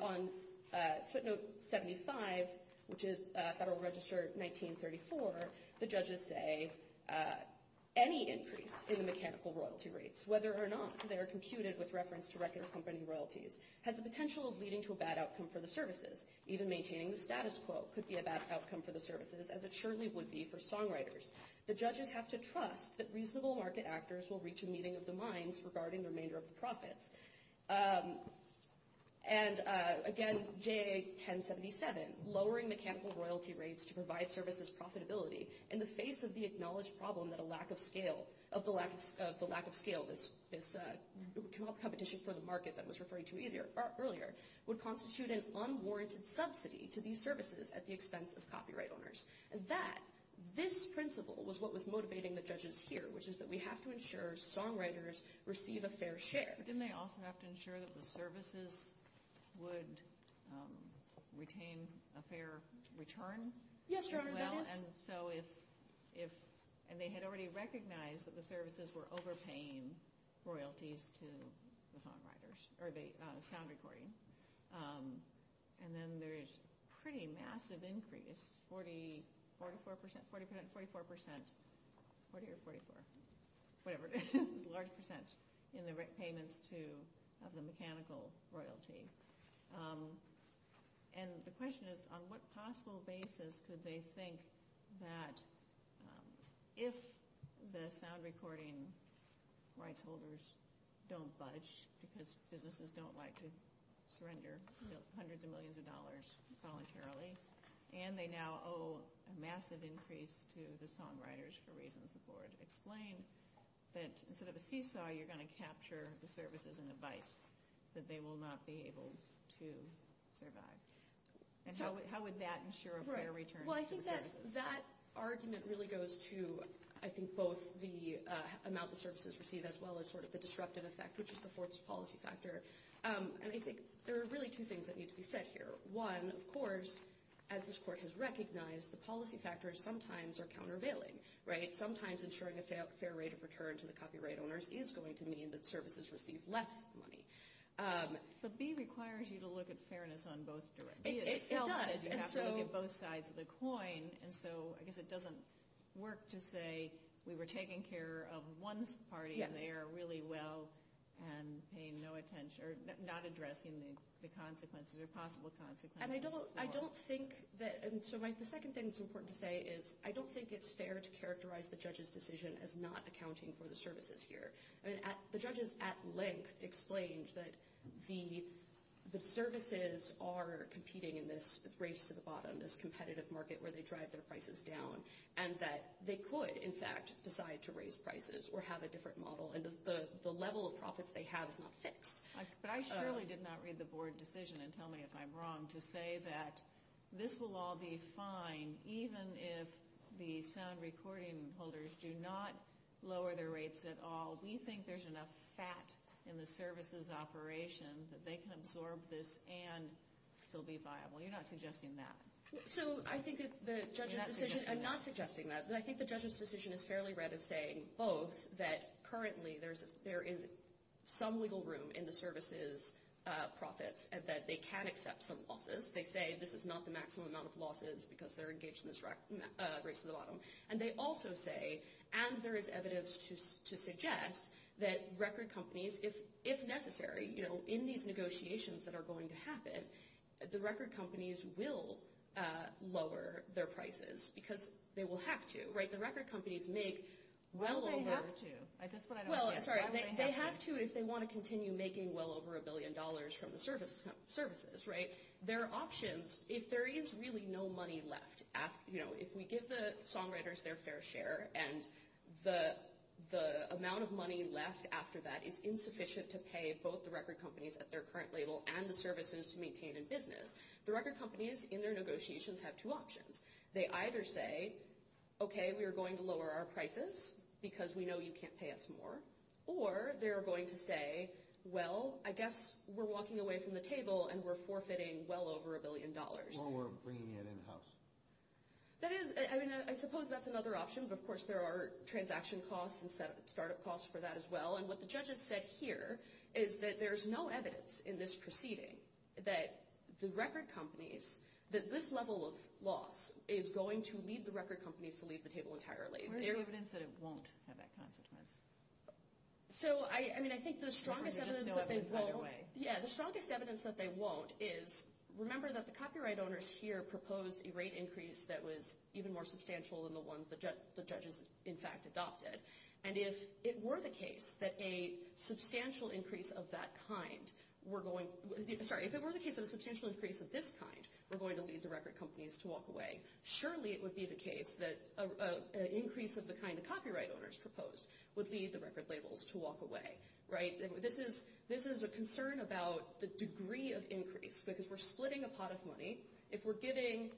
On footnote 75, which is Federal Register 1934, the judges say any increase in the mechanical royalty rates, whether or not they are computed with reference to regular company royalties, has the potential of leading to a bad outcome for the services. Even maintaining the status quo could be a bad outcome for the services, as it surely would be for songwriters. The judges have to trust that reasonable market actors will reach a meeting of the minds regarding the remainder of the profits. And again, JA 1077, lowering mechanical royalty rates to provide services profitability in the face of the acknowledged problem that a lack of scale, of the lack of scale of this competition for the market that I was referring to earlier, would constitute an unwarranted subsidy to these services at the expense of copyright owners. And that, this principle was what was motivating the judges here, which is that we have to ensure songwriters receive a fair share. But didn't they also have to ensure that the services would retain a fair return? And so if, and they had already recognized that the services were overpaying royalties to the songwriters, or the sound recording. And then there's a pretty massive increase, 40%, 44%, 40 or 44, whatever, large percents in the payments to the mechanical royalty. And the question is, on what possible basis could they think that if the sound recording rights holders don't budge, because businesses don't like to surrender hundreds of millions of dollars voluntarily, and they now owe a massive increase to the songwriters for reasons before it. Explain that instead of a seesaw, you're going to capture the services in the bikes, that they will not be able to survive. And how would that ensure a fair return? Well, I think that argument really goes to, I think, both the amount of services received as well as sort of the disruptive effect, which is the fourth policy factor. And I think there are really two things that need to be said here. One, of course, as this court has recognized, the policy factors sometimes are countervailing, right? Sometimes ensuring a fair rate of return to the copyright owners is going to mean that services received less money. So B requires you to look at fairness on both directions. It does. You have to look at both sides of the coin. And so I guess it doesn't work to say we were taking care of one party in there really well and paying no attention or not addressing the consequences or possible consequences. And I don't think that – and so the second thing that's important to say is I don't think it's fair to characterize the judge's decision as not accounting for the services here. And the judge's at length explains that the services are competing in this race to the bottom, this competitive market where they drive their prices down, and that they could, in fact, decide to raise prices or have a different model. And the level of profits they have is not fixed. But I surely did not read the board decision, and tell me if I'm wrong, to say that this will all be fine even if the sound recording holders do not lower their rates at all. We think there's enough fat in the services operation that they can absorb this and still be viable. You're not suggesting that. So I think the judge's decision – I'm not suggesting that. But I think the judge's decision is fairly right in saying, oh, there is some legal room in the services profits and that they can accept some losses. They say this is not the maximum amount of losses because they're engaged in this race to the bottom. And they also say, and there is evidence to suggest, that record companies, if necessary, in these negotiations that are going to happen, the record companies will lower their prices because they will have to. Well, they have to. They have to if they want to continue making well over a billion dollars from the services. There are options. If there is really no money left, if we give the songwriters their fair share, and the amount of money left after that is insufficient to pay both the record companies at their current level and the services to maintain a business, the record companies in their negotiations have two options. They either say, okay, we're going to lower our prices because we know you can't pay us more. Or they're going to say, well, I guess we're walking away from the table and we're forfeiting well over a billion dollars. Or we're bringing it in-house. That is – I mean, I suppose that's another option. But, of course, there are transaction costs and startup costs for that as well. And what the judge has said here is that there's no evidence in this proceeding that the record companies, that this level of loss is going to lead the record companies to leave the table entirely. Where is the evidence that it won't have that kind of success? So, I mean, I think the strongest evidence is that they won't. Yeah, the strongest evidence that they won't is remember that the copyright owners here proposed a rate increase that was even more substantial than the ones the judges, in fact, adopted. And if it were the case that a substantial increase of that kind were going – were going to lead the record companies to walk away, surely it would be the case that an increase of the kind the copyright owners proposed would lead the record labels to walk away. Right? This is a concern about the degree of increase. Because if we're splitting a pot of money, if we're giving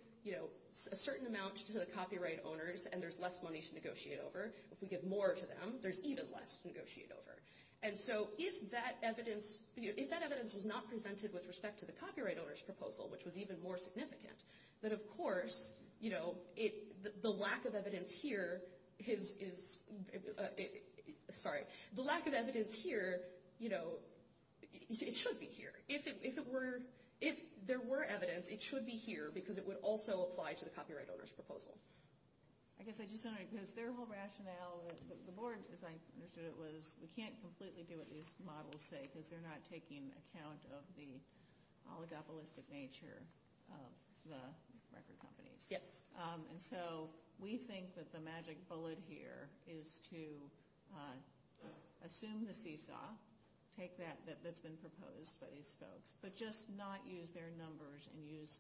a certain amount to the copyright owners and there's less money to negotiate over, if we give more to them, there's even less to negotiate over. And so if that evidence – if that evidence was not presented with respect to the copyright owners' proposal, which was even more significant, then of course, you know, the lack of evidence here is – sorry. The lack of evidence here, you know, it should be here. If it were – if there were evidence, it should be here because it would also apply to the copyright owners' proposal. I guess I just want to – because their whole rationale was – the board's, as I understood it, was we can't completely do it just to model safe if they're not taking account of the oligopolistic nature of the record companies. Yes. And so we think that the magic bullet here is to assume the seesaw, take that that's been proposed by these folks, but just not use their numbers and use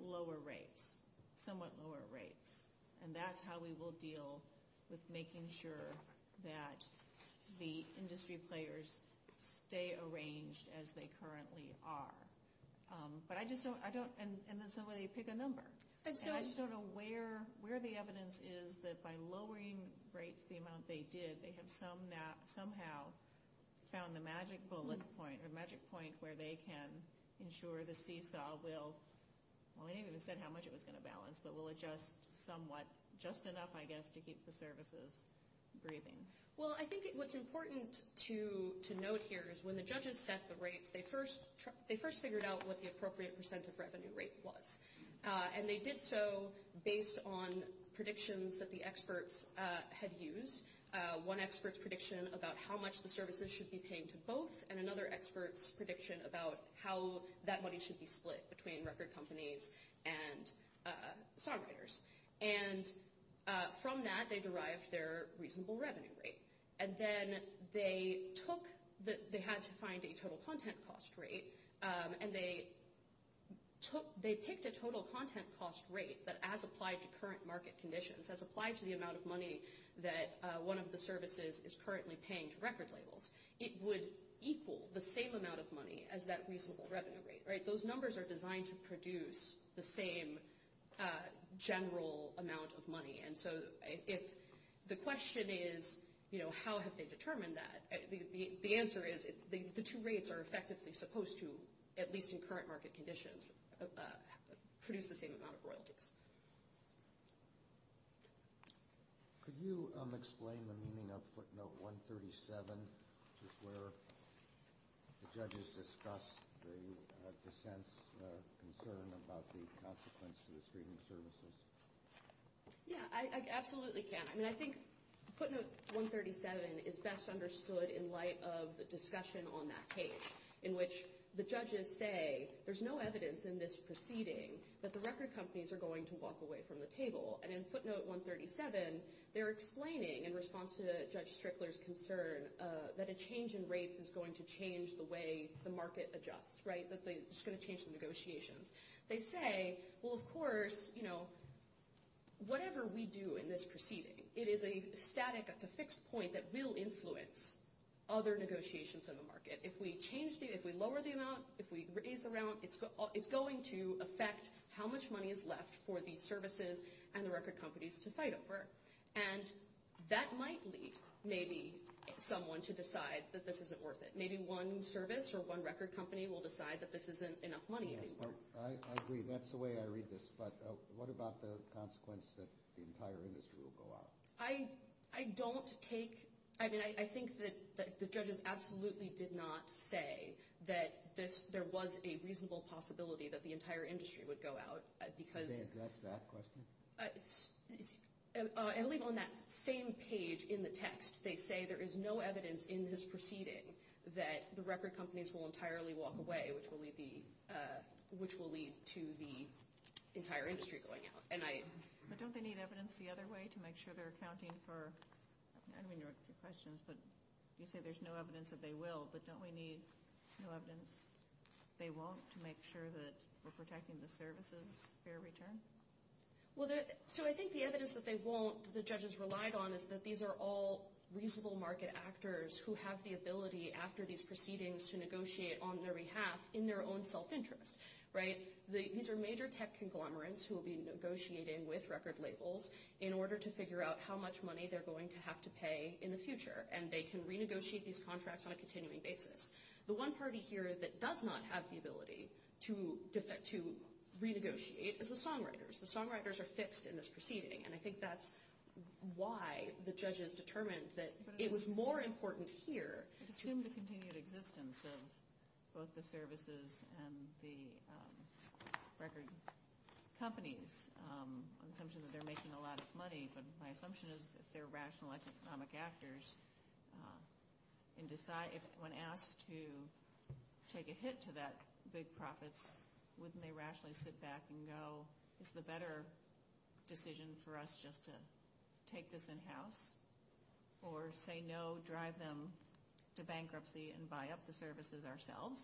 lower rates, somewhat lower rates. And that's how we will deal with making sure that the industry players stay arranged as they currently are. But I just don't – I don't – and then somebody would pick a number. And I just don't know where the evidence is that by lowering rates the amount they did, they have somehow found a magic bullet point, a magic point where they can ensure the seesaw will – well, they didn't say how much it was going to balance, but will adjust somewhat – just enough, I guess, to keep the services breathing. Well, I think what's important to note here is when the judges set the rates, they first figured out what the appropriate percent of revenue rates was. And they did so based on predictions that the experts had used. One expert's prediction about how much the services should be paying to both, and another expert's prediction about how that money should be split between record companies and songwriters. And from that, they derived their reasonable revenue rate. And then they took – they had to find a total content cost rate, and they took – they picked a total content cost rate that as applied to current market conditions, as applied to the amount of money that one of the services is currently paying to record labels, it would equal the same amount of money as that reasonable revenue rate. Those numbers are designed to produce the same general amount of money. And so the question is, how have they determined that? The answer is the two rates are effectively supposed to, at least in current market conditions, produce the same amount of royalties. Could you explain the meaning of footnote 137, which is where the judges discussed the sense of concern about the consequence to the freedom services? Yeah, I absolutely can. And I think footnote 137 is best understood in light of the discussion on that case, in which the judges say there's no evidence in this proceeding that the record companies are going to walk away from the table. And in footnote 137, they're explaining, in response to Judge Strickler's concern, that a change in rates is going to change the way the market adjusts, right? It's going to change the negotiations. They say, well, of course, you know, whatever we do in this proceeding, it is a static, it's a fixed point that will influence other negotiations in the market. If we lower the amount, if we raise the amount, it's going to affect how much money is left for the services and the record companies to fight over. And that might lead maybe someone to decide that this isn't worth it. Maybe one service or one record company will decide that this isn't enough money anymore. I agree. That's the way I read this. But what about the consequence that the entire industry will go out? I don't take – I mean, I think that the judges absolutely did not say that there was a reasonable possibility that the entire industry would go out. Did they address that question? At least on that same page in the text, they say there is no evidence in this proceeding that the record companies will entirely walk away, which will lead to the entire industry going out. But don't they need evidence the other way to make sure they're accounting for – I mean, you're asking questions, but you say there's no evidence that they will, but don't they need no evidence they won't to make sure that we're protecting the services' fair return? Well, so I think the evidence that they won't, the judges relied on, is that these are all reasonable market actors who have the ability after these proceedings to negotiate on their behalf in their own self-interest. These are major tech conglomerates who will be negotiating with record labels in order to figure out how much money they're going to have to pay in the future. And they can renegotiate these contracts on a continuing basis. The one party here that does not have the ability to renegotiate is the songwriters. The songwriters are fixed in this proceeding. And I think that's why the judges determined that it was more important here – It's assumed the continued existence of both the services and the record companies. I'm assuming that they're making a lot of money, but my assumption is that they're rational economic actors. And when asked to take a hit to that big profit, wouldn't they rationally sit back and go, this is a better decision for us just to take this in-house, or say no, drive them to bankruptcy and buy up the services ourselves,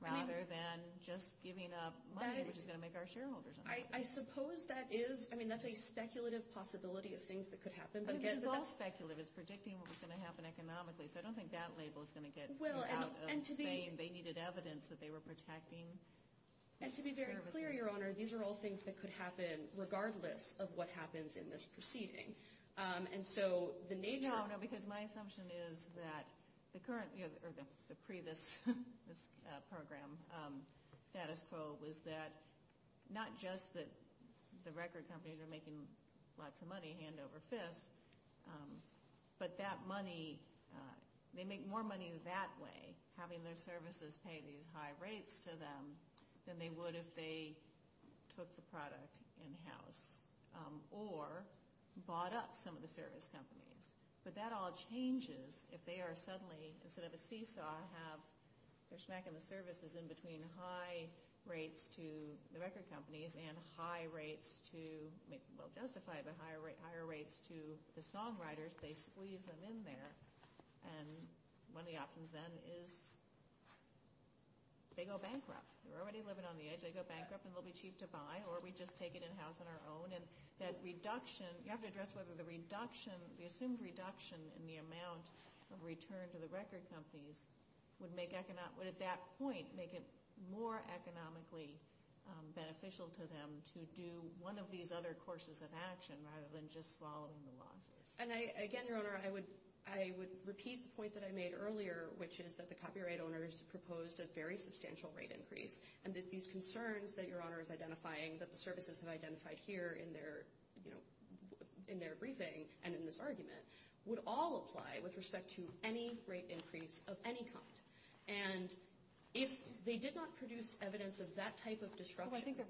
rather than just giving up money, which is going to make our shareholders unhappy? I suppose that is – I mean, that's a speculative possibility of things that could happen. But this is all speculative, predicting what was going to happen economically. So I don't think that label is going to get out of vain. They needed evidence that they were protecting services. And to be very clear, Your Honor, these are all things that could happen regardless of what happens in this proceeding. And so the nature of – No, because my assumption is that the current – or the previous program status quo was that not just that the record companies are making lots of money hand over fist, but that money – they make more money that way, having their services pay these high rates to them than they would if they took the product in-house or bought up some of the service companies. But that all changes if they are suddenly – instead of a seesaw, have their services in between high rates to the record companies and high rates to – well, justify the higher rates to the songwriters, they squeeze them in there. And one of the options then is they go bankrupt. They're already living on the edge. They go bankrupt and they'll be cheap to buy, or we just take it in-house on our own. And that reduction – you have to address whether the reduction, the assumed reduction in the amount of return to the record companies would at that point make it more economically beneficial to them to do one of these other courses of action rather than just following the law. And again, Your Honor, I would repeat the point that I made earlier, which is that the copyright owners proposed a very substantial rate increase, and that these concerns that Your Honor is identifying, that the services have identified here in their briefing and in this argument, would all apply with respect to any rate increase of any kind. And if they did not produce evidence of that type of disruption – We're at this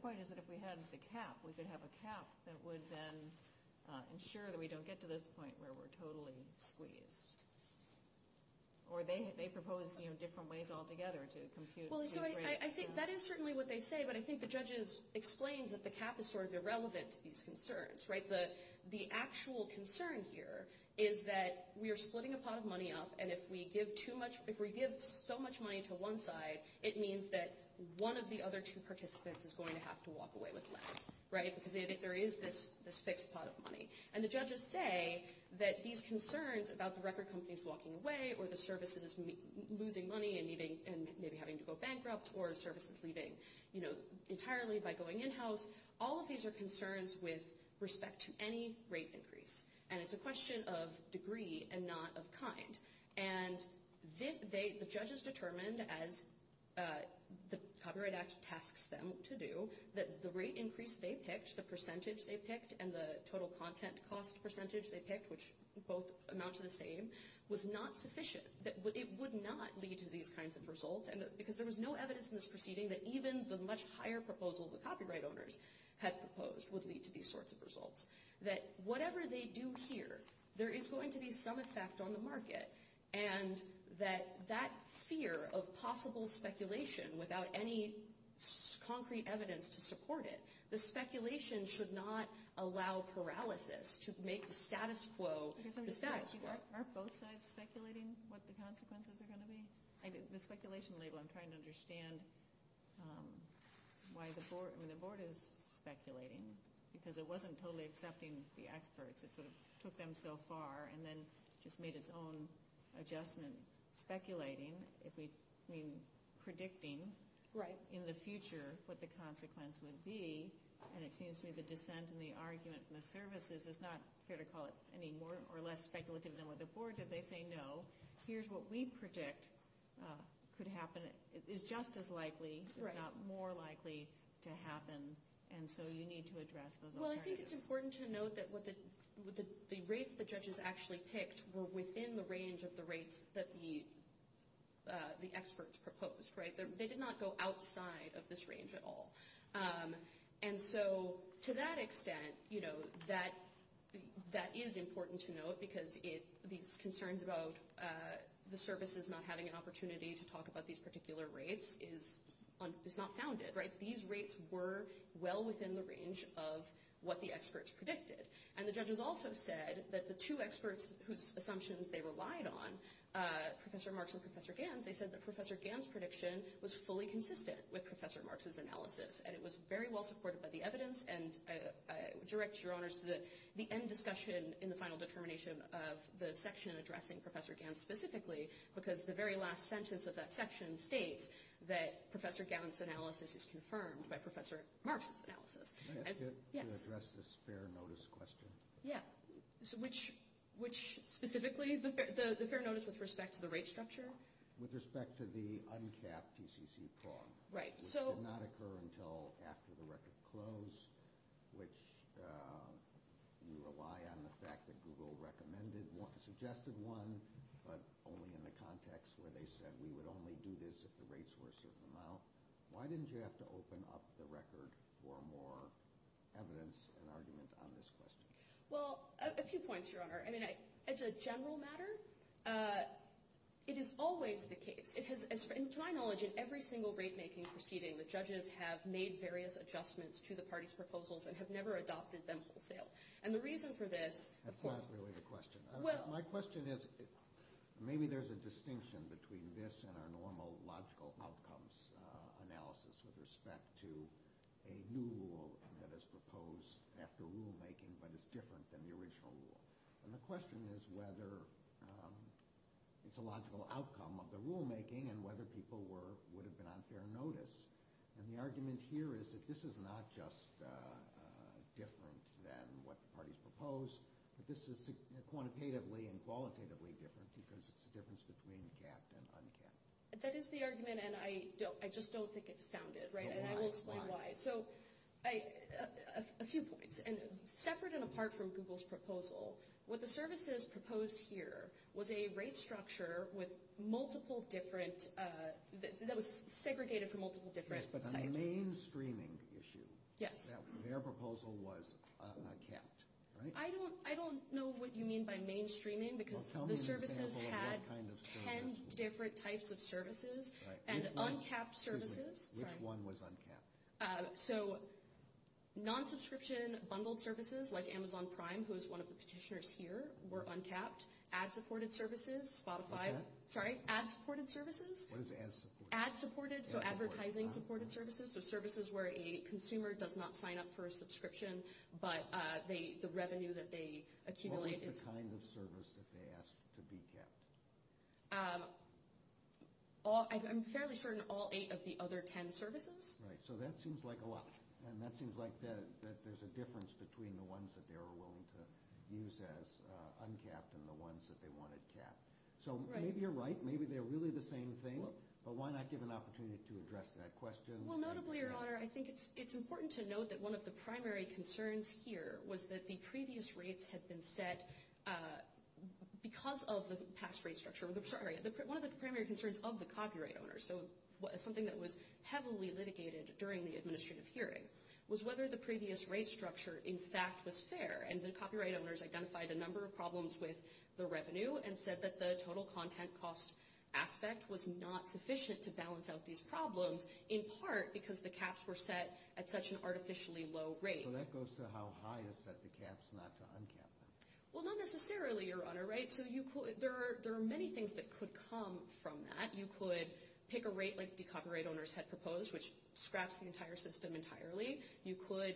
point where we're totally squeezed. Or they proposed different ways altogether to confuse – Well, Your Honor, I think that is certainly what they say, but I think the judges explained that the cap is sort of irrelevant to these concerns, right? But the actual concern here is that we are splitting a pot of money up, and if we give too much – if we give so much money to one side, it means that one of the other two participants is going to have to walk away with less, right? Because there is this fixed pot of money. And the judges say that these concerns about the record companies walking away or the services losing money and maybe having to go bankrupt or services leaving entirely by going in-house, all of these are concerns with respect to any rate increase. And it's a question of degree and not of kind. And the judges determined, as the Copyright Act tasks them to do, that the rate increase they picked, the percentage they picked, and the total content cost percentage they picked, which both amount to the same, was not sufficient. It would not lead to these kinds of results, because there was no evidence in this proceeding that even the much higher proposals that copyright owners had proposed would lead to these sorts of results. That whatever they do here, there is going to be some effect on the market, and that that fear of possible speculation without any concrete evidence to support it, the speculation should not allow paralysis to make the status quo the status quo. Are both sides speculating what the consequences are going to be? The speculation label, I'm trying to understand why the board is speculating, because it wasn't totally accepting the experts. It took them so far and then just made its own adjustment speculating, predicting in the future what the consequence would be. And it seems to me the dissent in the argument in the services is not here to call it any more or less speculative than what the board did. They say, no, here's what we predict could happen. It's just as likely, if not more likely, to happen. And so you need to address those arguments. Well, I think it's important to note that the rates the judges actually picked were within the range of the rates that the experts proposed. They did not go outside of this range at all. And so to that extent, that is important to note, because these concerns about the services not having an opportunity to talk about these particular rates is not founded. These rates were well within the range of what the experts predicted. And the judges also said that the two experts whose assumptions they relied on, Professor Marks and Professor Gantz, they said that Professor Gantz's prediction was fully consistent with Professor Marks' analysis. And it was very well supported by the evidence and directs your honors to the end discussion in the final determination of the section addressing Professor Gantz specifically, because the very last sentence of that section states that Professor Gantz's analysis is confirmed by Professor Marks' analysis. Can I ask you to address the fair notice question? Yeah. Which specifically? The fair notice with respect to the rate structure? With respect to the uncapped PCC prog. Right. Which did not occur until after the record closed, which you rely on the fact that Google recommended one, suggested one, but only in a context where they said we would only do this if the rates were a certain amount. Why didn't you have to open up the record for more evidence and argument on this question? Well, a few points, your honor. I mean, as a general matter, it is always the case. In my knowledge, in every single rate-making proceeding, the judges have made various adjustments to the party's proposals and have never adopted them for sale. And the reason for this— That's not really the question. My question is maybe there's a distinction between this and our normal logical outcomes analysis with respect to a new rule that is proposed after rulemaking, but it's different than the original rule. And the question is whether it's a logical outcome of the rulemaking and whether people would have been on fair notice. And the argument here is that this is not just different than what the parties proposed, but this is quantitatively and qualitatively different because it's the difference between kept and unkept. That is the argument, and I just don't think it's founded. And I will explain why. So a few points. And separate and apart from Google's proposal, what the services proposed here was a rate structure with multiple different— that was segregated for multiple different— But the mainstreaming issue, their proposal was unkept. I don't know what you mean by mainstreaming because the service has had 10 different types of services and unkept services. Which one was unkept? So non-subscription bundled services like Amazon Prime, who is one of the petitioners here, were unkept. Ad-supported services, Spotify— Yeah. Sorry, ad-supported services. What is ad-supported? Ad-supported, so advertising-supported services, so services where a consumer does not sign up for a subscription, but the revenue that they accumulate is— What was the kind of service that they asked to be kept? I'm fairly certain all eight of the other 10 services. Right, so that seems like a lot. And that seems like there's a difference between the ones that they were willing to use as unkept and the ones that they wanted kept. So maybe you're right. Maybe they're really the same thing. Well, notably, Your Honor, I think it's important to note that one of the primary concerns here was that the previous rates had been set because of the past rate structure. I'm sorry, one of the primary concerns of the copyright owners, so something that was heavily litigated during the administrative hearing, was whether the previous rate structure, in fact, was fair. And the copyright owners identified a number of problems with the revenue and said that the total contact cost aspect was not sufficient to balance out these problems, in part because the caps were set at such an artificially low rate. So that goes to how high you set the caps, not the unkept ones. Well, not necessarily, Your Honor. There are many things that could come from that. You could pick a rate like the copyright owners had proposed, which scraps the entire system entirely. You could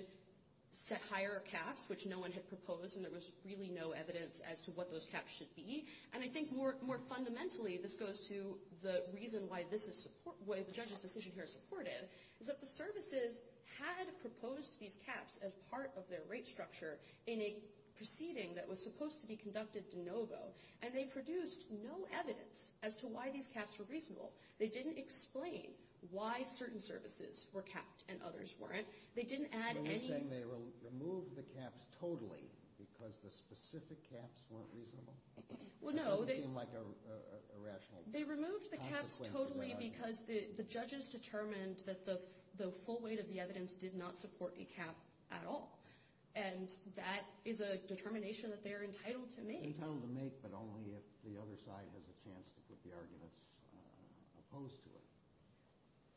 set higher caps, which no one had proposed, and there was really no evidence as to what those caps should be. And I think more fundamentally, this goes to the reason why the judge's decision here is supportive, is that the services had proposed these caps as part of their rate structure in a proceeding that was supposed to be conducted de novo, and they produced no evidence as to why these caps were reasonable. They didn't explain why certain services were capped and others weren't. You're saying they removed the caps totally because the specific caps weren't reasonable? Well, no. They removed the caps totally because the judges determined that the full weight of the evidence did not support a cap at all, and that is a determination that they're entitled to make. Entitled to make, but only if the other side has a chance to put the arguments opposed to it.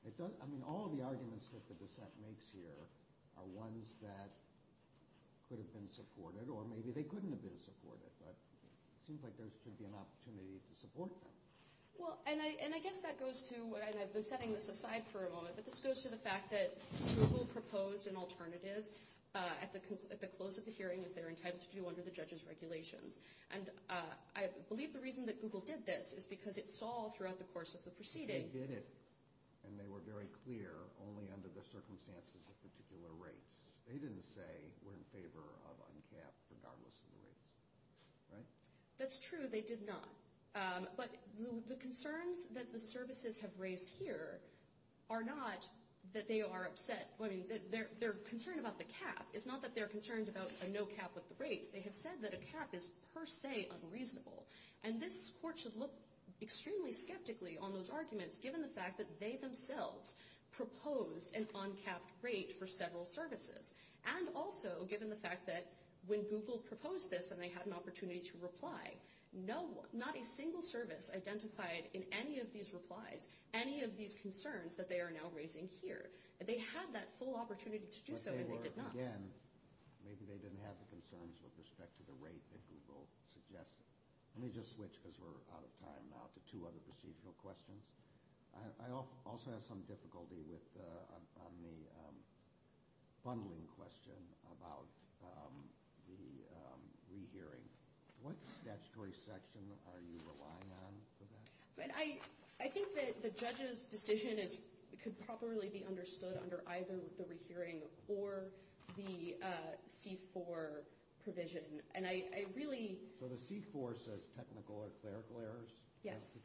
I mean, all of the arguments that the dissent makes here are ones that could have been supported, or maybe they couldn't have been supported, but it seems like there should be an opportunity to support them. Well, and I guess that goes to, and I've been setting this aside for a moment, but this goes to the fact that Google proposed an alternative at the close of the hearing that they were entitled to do under the judge's regulations. And I believe the reason that Google did this is because it saw throughout the course of the proceeding that they did, and they were very clear, only under the circumstances of particular rates. They didn't say we're in favor of uncapped regardless of the rates. That's true, they did not. But the concerns that the services have raised here are not that they are upset. Their concern about the cap is not that they're concerned about a no cap of the rate. They have said that a cap is per se unreasonable. And this court should look extremely skeptically on those arguments, given the fact that they themselves proposed an uncapped rate for several services, and also given the fact that when Google proposed this and they had an opportunity to reply, not a single service identified in any of these replies any of these concerns that they are now raising here. They had that full opportunity to do so, and they did not. Again, maybe they didn't have the concerns with respect to the rate that Google suggested. Let me just switch, because we're out of time now, to two other procedural questions. I also have some difficulty on the bundling question about the rehearing. What statutory section are you relying on for that? I think that the judge's decision could probably be understood under either the rehearing or the C-4 provision. So the C-4 says technical or clerical errors? Yes.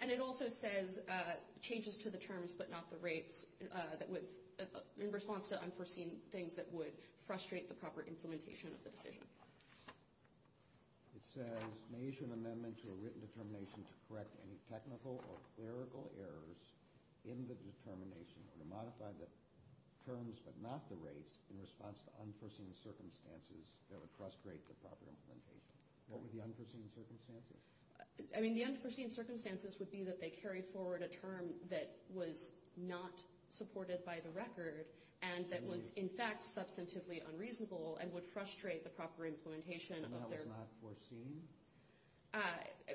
And it also says changes to the terms but not the rates in response to unforeseen things that would frustrate the proper implementation of the state. It says measure and amendment to the written determination to correct any technical or clerical errors in the determination and modify the terms but not the rates in response to unforeseen circumstances that would frustrate the proper implementation. What were the unforeseen circumstances? I mean, the unforeseen circumstances would be that they carry forward a term that was not supported by the record and that was, in fact, substantively unreasonable and would frustrate the proper implementation. And that was not foreseen?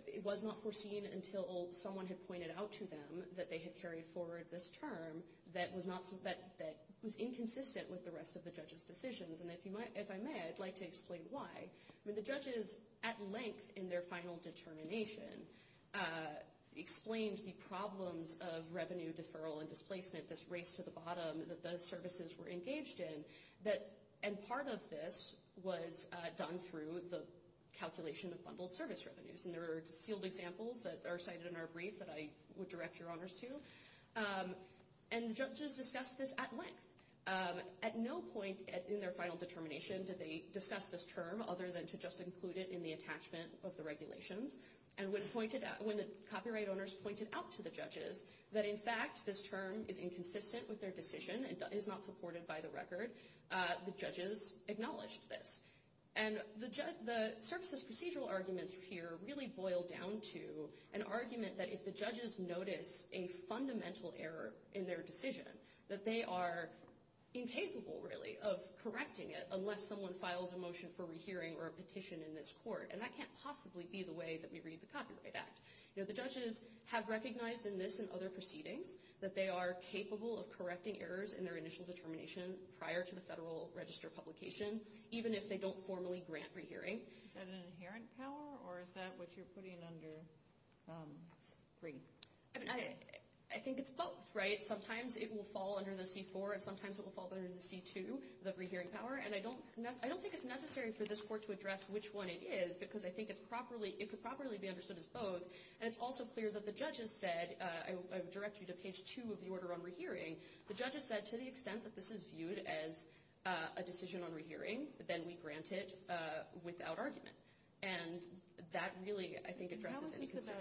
It was not foreseen until someone had pointed out to them that they had carried forward this term that was inconsistent with the rest of the judge's decisions. And if I may, I'd like to explain why. The judges, at length in their final determination, explained the problems of revenue deferral and displacement, this race to the bottom that the services were engaged in. And part of this was done through the calculation of bundled service revenues. And there are field examples that are cited in our brief that I would direct your honors to. And judges discussed this at length. At no point in their final determination did they discuss this term other than to just include it in the attachment of the regulations and when the copyright owners pointed out to the judges that, in fact, this term is inconsistent with their decision and is not supported by the record, the judges acknowledged this. And the services procedural arguments here really boil down to an argument that if the judges notice a fundamental error in their decision, that they are incapable, really, of correcting it unless someone files a motion for rehearing or a petition in this court. And that can't possibly be the way that we read the Copyright Act. The judges have recognized in this and other proceedings that they are capable of correcting errors in their initial determination prior to the federal register publication, even if they don't formally grant rehearing. Is that an inherent power, or is that what you're putting under three? I think it's both, right? Sometimes it will fall under the C-4, and sometimes it will fall under the C-2, the rehearing power. And I don't think it's necessary for this court to address which one it is, because I think it could properly be understood as both. And it's also clear that the judges said, directly to page 2 of the order on rehearing, the judges said to the extent that this is viewed as a decision on rehearing, then we grant it without argument. And that really, I think, addresses this concern.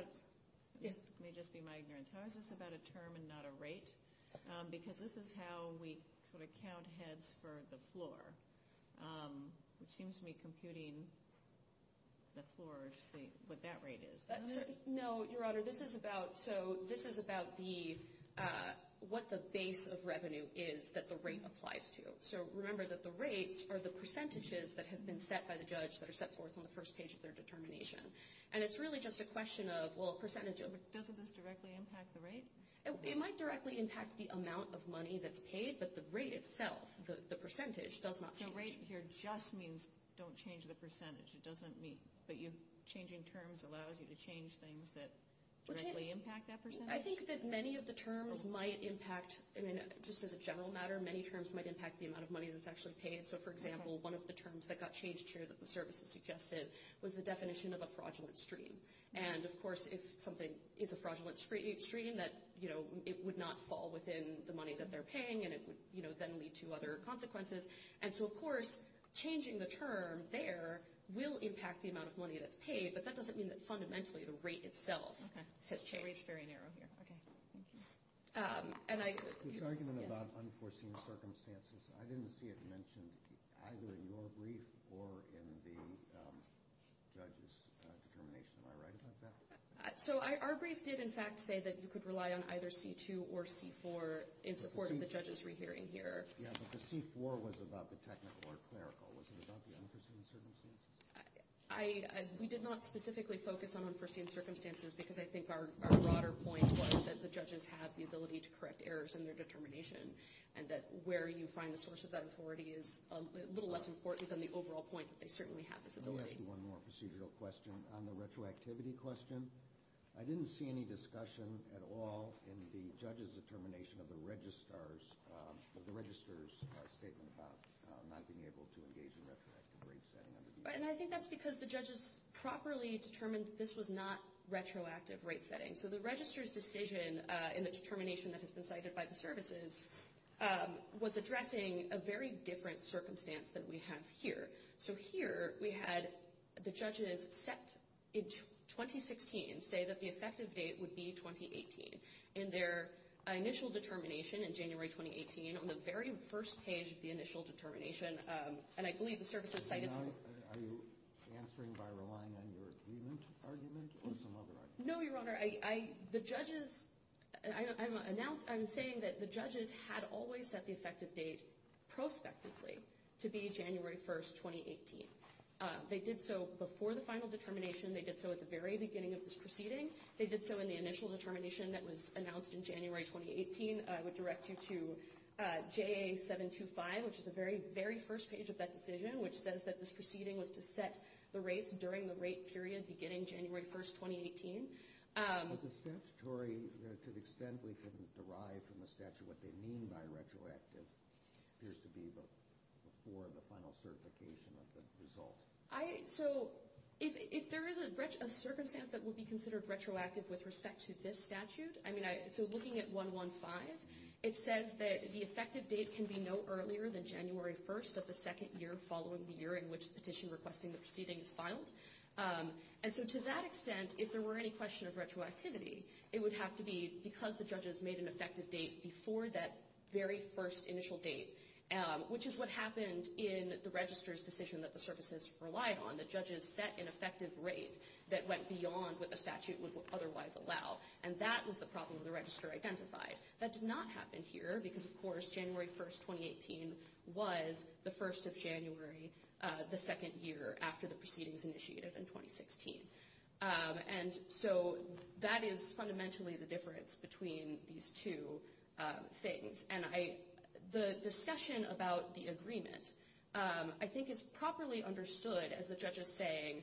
Let me just be my ignorance. How is this about a term and not a rate? Because this is how we sort of count heads for the floor. It seems to me computing the floor would say what that rate is. No, Your Honor, this is about what the base of revenue is that the rate applies to. So remember that the rates are the percentages that have been set by the judge that are set forth on the first page of their determination. And it's really just a question of, well, percentage of it. Doesn't this directly impact the rate? It might directly impact the amount of money that's paid, but the rate itself, the percentage, does not. The rate here just means don't change the percentage. It doesn't mean that changing terms allows you to change things that directly impact that percentage. I think that many of the terms might impact, just as a general matter, many terms might impact the amount of money that's actually paid. So, for example, one of the terms that got changed here that the service suggested was the definition of a fraudulent stream. And, of course, if something is a fraudulent stream, it would not fall within the money that they're paying, and it would then lead to other consequences. And so, of course, changing the term there will impact the amount of money that's paid, but that doesn't mean that fundamentally the rate itself has changed. It's very narrow here. This argument about unforeseen circumstances, I didn't see it mentioned either in your brief or in the judge's determination. Am I right about that? So our brief did, in fact, say that you could rely on either C2 or C4 in supporting the judge's rehearing here. Yeah, but the C4 was about the technical or clerical. Was it about the unforeseen circumstances? We did not specifically focus on unforeseen circumstances because I think our broader point was that the judges have the ability to correct errors in their determination and that where you find the source of that authority is a little less important than the overall point that they certainly have the ability. Let me ask you one more procedural question. On the retroactivity question, I didn't see any discussion at all in the judge's determination of the registrar's statement about not being able to engage in retroactivity. And I think that's because the judges properly determined that this was not retroactive rate setting. So the registrar's decision in the determination that has been cited by the services was addressing a very different circumstance that we have here. So here we had the judges set in 2016, say that the effective date would be 2018. In their initial determination in January 2018, on the very first page of the initial determination, and I believe the services cited – Are you answering by relying on your image or some other argument? No, Your Honor. The judges – I'm saying that the judges had always set the effective date prospectively to be January 1, 2018. They did so before the final determination. They did so at the very beginning of this proceeding. They did so in the initial determination that was announced in January 2018. I would direct you to JA-725, which is the very, very first page of that decision, which says that this proceeding was to set the rates during the rate period beginning January 1, 2018. But the statutory – to the extent we can derive from the statute what they mean by retroactive, there's to be before the final certification of the result. So if there is a circumstance that would be considered retroactive with respect to this statute – I mean, so looking at 115, it says that the effective date can be no earlier than January 1 of the second year following the year in which the petition requesting the proceeding is filed. And so to that extent, if there were any question of retroactivity, it would have to be because the judges made an effective date before that very first initial date, which is what happened in the registrar's decision that the services relied on. The judges set an effective rate that went beyond what the statute would otherwise allow. And that was the problem the registrar identified. That did not happen here because, of course, January 1, 2018 was the first of January, the second year after the proceedings initiative in 2016. And so that is fundamentally the difference between these two things. The discussion about the agreement I think is properly understood as the judges saying,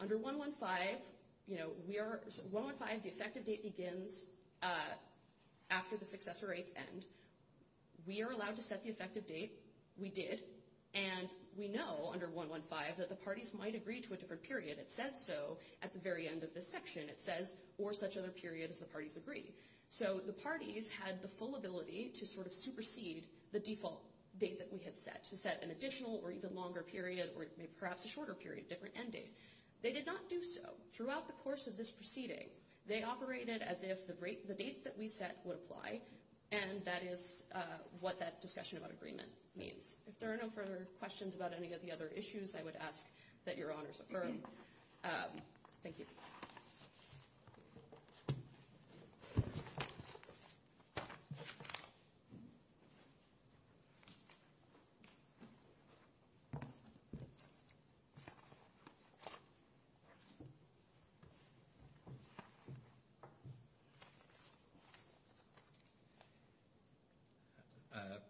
under 115, the effective date begins after the successor rates end. We are allowed to set the effective date. We did. And we know under 115 that the parties might agree to a different period. It says so at the very end of this section. It says, or such other period as the parties agree. So the parties had the full ability to sort of supersede the default date that we had set, to set an additional or even longer period or perhaps a shorter period, different end date. They did not do so. Throughout the course of this proceeding, they operated as if the dates that we set would apply, and that is what that discussion about agreement means. If there are no further questions about any of the other issues, I would ask that your honors adjourn. Thank you. Thank you.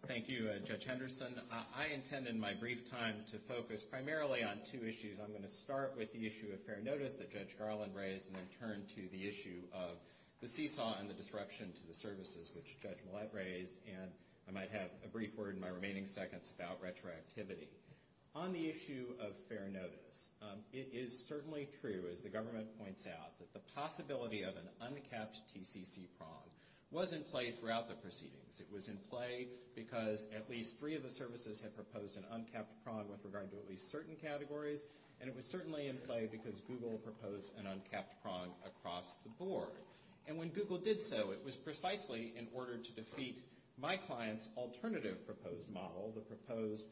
Thank you, Judge Henderson. I intended my brief time to focus primarily on two issues. I'm going to start with the issue of fair notice that Judge Harlan raised and then turn to the issue of the seesaw and the disruption to the services, which Judge Millett raised. And I might have a brief word in my remaining seconds about retroactivity. On the issue of fair notice, it is certainly true, as the government points out, that the possibility of an uncapped TCC prong was in place throughout the proceedings. It was in play because at least three of the services had proposed an uncapped prong with regard to at least certain categories, and it was certainly in play because Google proposed an uncapped prong across the board. And when Google did so, it was precisely in order to defeat my client's alternative proposed model, the proposed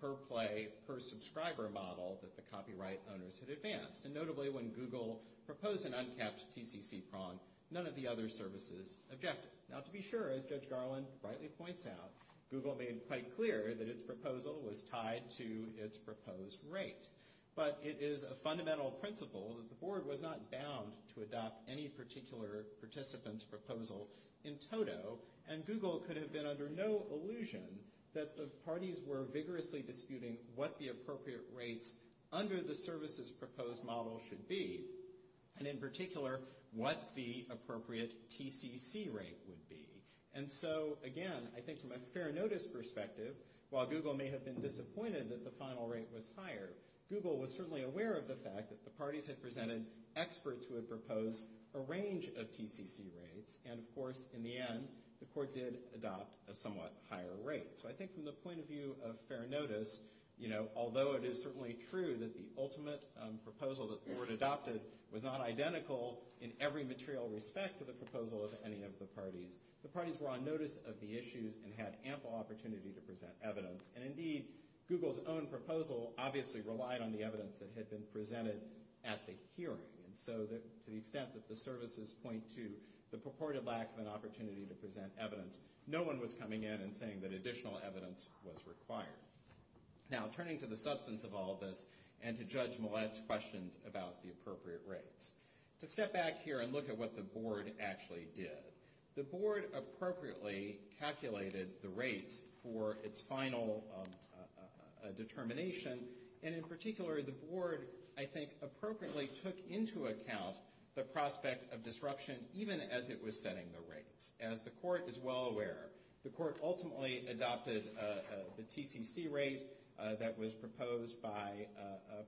per-play, per-subscriber model that the copyright owners had advanced. And notably, when Google proposed an uncapped TCC prong, none of the other services objected. Now, to be sure, as Judge Harlan rightly points out, Google made it quite clear that its proposal was tied to its proposed rate. But it is a fundamental principle that the board was not bound to adopt any particular participant's proposal in total, and Google could have been under no illusion that the parties were vigorously disputing what the appropriate rates under the services proposed model should be, and in particular, what the appropriate TCC rate would be. And so, again, I think from a fair notice perspective, while Google may have been disappointed that the final rate was higher, Google was certainly aware of the fact that the parties had presented experts who had proposed a range of TCC rates, and, of course, in the end, the court did adopt a somewhat higher rate. So I think from the point of view of fair notice, although it is certainly true that the ultimate proposal that the board adopted was not identical in every material respect to the proposal as any of the parties, the parties were on notice of the issues and had ample opportunity to present evidence. And, indeed, Google's own proposal obviously relied on the evidence that had been presented at the hearing. And so to the extent that the services point to the purported lack of an opportunity to present evidence, no one was coming in and saying that additional evidence was required. Now, turning to the substance of all this and to Judge Millett's questions about the appropriate rates, to step back here and look at what the board actually did. The board appropriately calculated the rates for its final determination, and, in particular, the board, I think, appropriately took into account the prospect of disruption even as it was setting the rates. As the court is well aware, the court ultimately adopted the TCC rate that was proposed by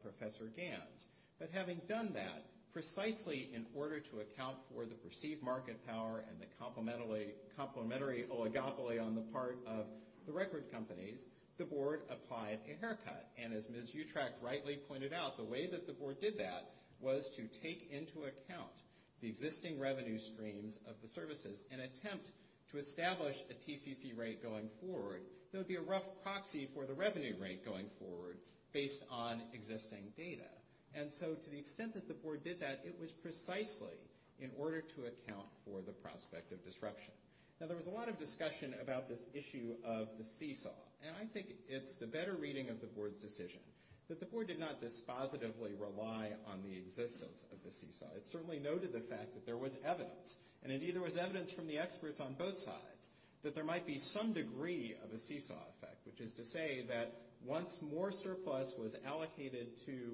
Professor Gantz. But having done that, precisely in order to account for the perceived market power and the complementary oligopoly on the part of the record companies, the board applied a haircut. And as Ms. Utrach rightly pointed out, the way that the board did that was to take into account the existing revenue streams of the services in an attempt to establish a TCC rate going forward. There would be a rough proxy for the revenue rate going forward based on existing data. And so to the extent that the board did that, it was precisely in order to account for the prospect of disruption. Now, there was a lot of discussion about this issue of the seesaw, and I think it's the better reading of the board's decision that the board did not dispositively rely on the existence of the seesaw. It certainly noted the fact that there was evidence, and, indeed, there was evidence from the experts on both sides that there might be some degree of a seesaw effect, which is to say that once more surplus was allocated to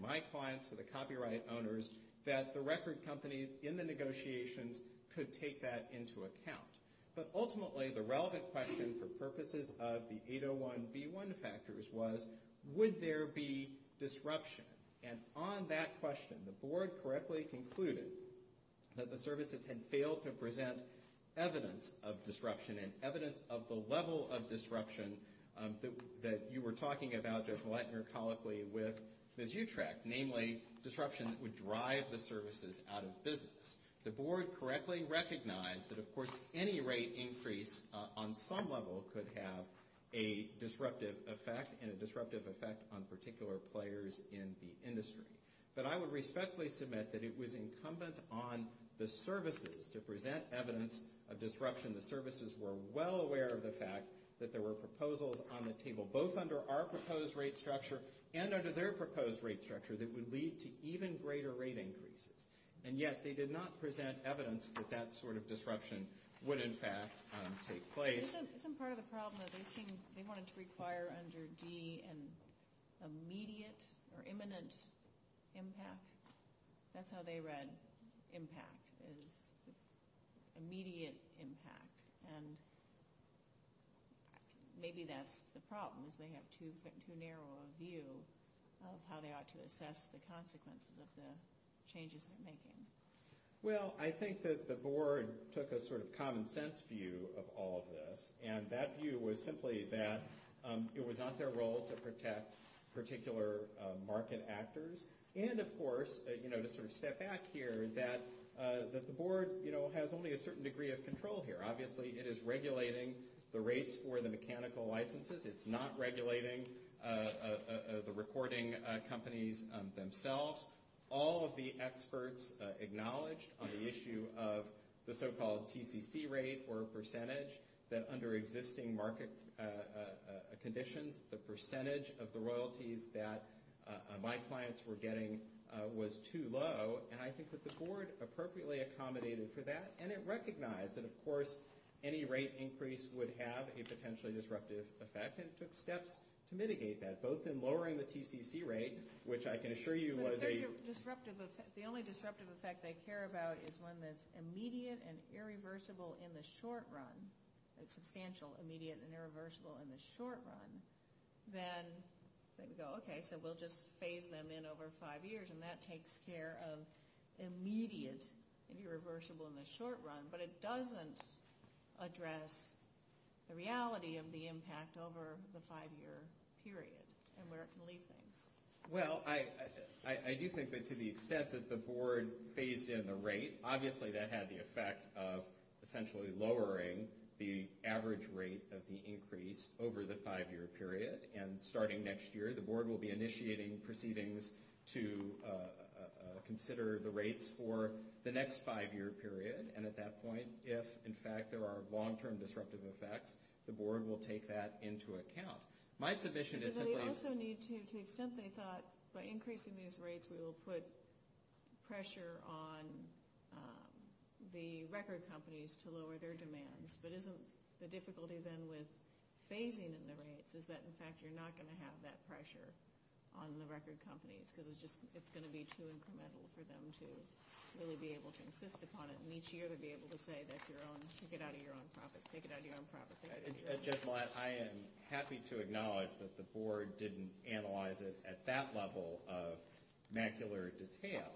my clients, to the copyright owners, that the record companies in the negotiations could take that into account. But ultimately, the relevant question for purposes of the 801B1 factors was, would there be disruption? And on that question, the board correctly concluded that the services had failed to present evidence of disruption and evidence of the level of disruption that you were talking about there, Vladimir, colloquially, with the G-TRAC, namely disruption that would drive the services out of business. The board correctly recognized that, of course, any rate increase on some level could have a disruptive effect, and a disruptive effect on particular players in the industry. But I would respectfully submit that it was incumbent on the services to present evidence of disruption. The services were well aware of the fact that there were proposals on the table, both under our proposed rate structure and under their proposed rate structure, that would lead to even greater rate increases. And yet, they did not present evidence that that sort of disruption would, in fact, take place. Isn't part of the problem that they wanted to require under D an immediate or imminent impact? That's how they read impact, is immediate impact. And maybe that's the problem, is they have too narrow a view of how they ought to assess the consequences of the changes they're making. Well, I think that the board took a sort of common sense view of all of this. And that view was simply that it was not their role to protect particular market actors. And, of course, to sort of step back here, that the board has only a certain degree of control here. Obviously, it is regulating the rates for the mechanical licenses. It's not regulating the recording companies themselves. All of the experts acknowledged on the issue of the so-called TCC rate or percentage that under existing market conditions, the percentage of the royalties that my clients were getting was too low. And I think that the board appropriately accommodated for that. And it recognized that, of course, any rate increase would have a potentially disruptive effect and took steps to mitigate that. The only disruptive effect they care about is one that's immediate and irreversible in the short run, a substantial immediate and irreversible in the short run. Then they go, okay, so we'll just phase them in over five years. And that takes care of immediate irreversible in the short run. But it doesn't address the reality of the impact over the five-year period. Well, I do think that to the extent that the board phased in the rate, obviously that had the effect of essentially lowering the average rate of the increase over the five-year period. And starting next year, the board will be initiating proceedings to consider the rates for the next five-year period. And at that point, if, in fact, there are long-term disruptive effects, the board will take that into account. My position is that the – But they also need to – to the extent they thought by increasing these rates, we will put pressure on the record companies to lower their demands. But isn't the difficulty, then, with phasing in the rates is that, in fact, you're not going to have that pressure on the record companies because it's just – it's going to be too incremental for them to really be able to insist upon it. And each year, they'll be able to say that's your own. Take it out of your own profits. Take it out of your own profits. I am happy to acknowledge that the board didn't analyze it at that level of macular detail.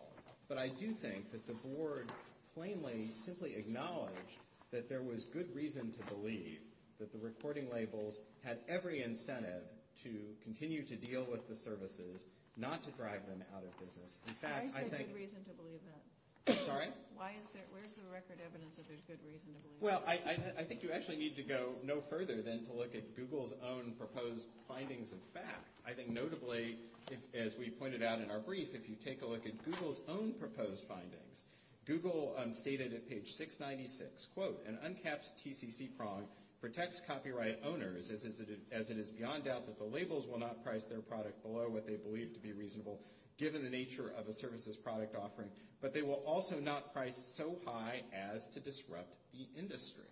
But I do think that the board plainly, simply acknowledged that there was good reason to believe that the recording labels had every incentive to continue to deal with the services, not to drag them out of business. In fact, I think – Why is there good reason to believe that? Sorry? Why is there – where's the record evidence that there's good reason to believe that? Well, I think you actually need to go no further than to look at Google's own proposed findings of fact. I think notably, as we pointed out in our brief, if you take a look at Google's own proposed findings, Google stated at page 696, quote, An uncapped TCC prong protects copyright owners, as it is beyond doubt that the labels will not price their product below what they believe to be reasonable, given the nature of a services product offering. But they will also not price so high as to disrupt the industry.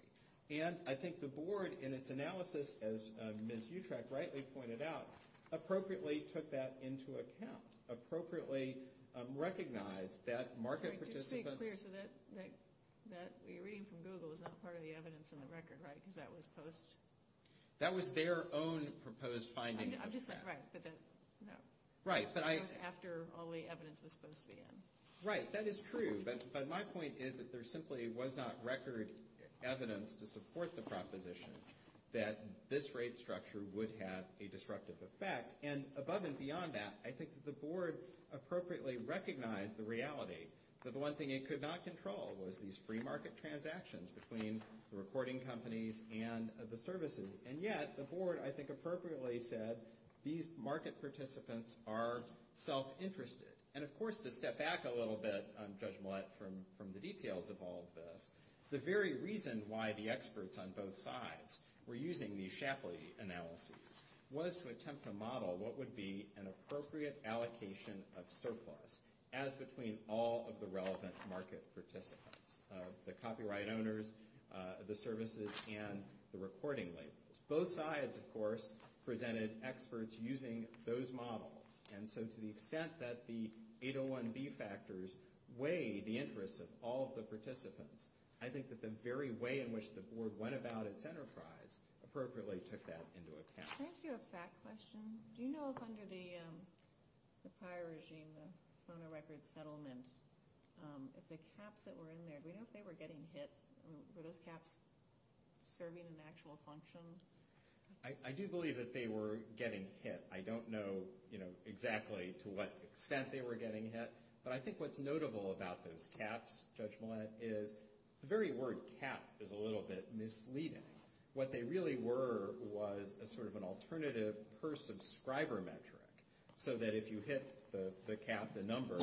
And I think the board, in its analysis, as Ms. Utrecht rightly pointed out, appropriately took that into account, appropriately recognized that market participants – Just to be clear, so that reading from Google was not part of the evidence in the record, right? Because that was post – That was their own proposed findings of fact. I'm just not correct, but that's – Right, but I – After all the evidence was supposed to be in. Right, that is true. But my point is that there simply was not record evidence to support the proposition that this rate structure would have a disruptive effect. And above and beyond that, I think the board appropriately recognized the reality that the one thing it could not control was these free market transactions between the recording companies and the services. And yet, the board, I think, appropriately said these market participants are self-interested. And, of course, to step back a little bit, Judge Millett, from the details of all of this, the very reason why the experts on both sides were using these Shapley analyses was to attempt to model what would be an appropriate allocation of surplus as between all of the relevant market participants – the copyright owners, the services, and the recording labels. Both sides, of course, presented experts using those models. And so to the extent that the 801B factors weighed the interests of all of the participants, I think that the very way in which the board went about its enterprise appropriately took that into account. Can I ask you a fact question? Do you know if under the prior regime, the Sonar Record Settlement, if the caps that were in there, if they were getting hit, were those caps serving an actual function? I do believe that they were getting hit. I don't know exactly to what extent they were getting hit. But I think what's notable about those caps, Judge Millett, is the very word cap is a little bit misleading. What they really were was sort of an alternative per-subscriber metric so that if you hit the cap, the number,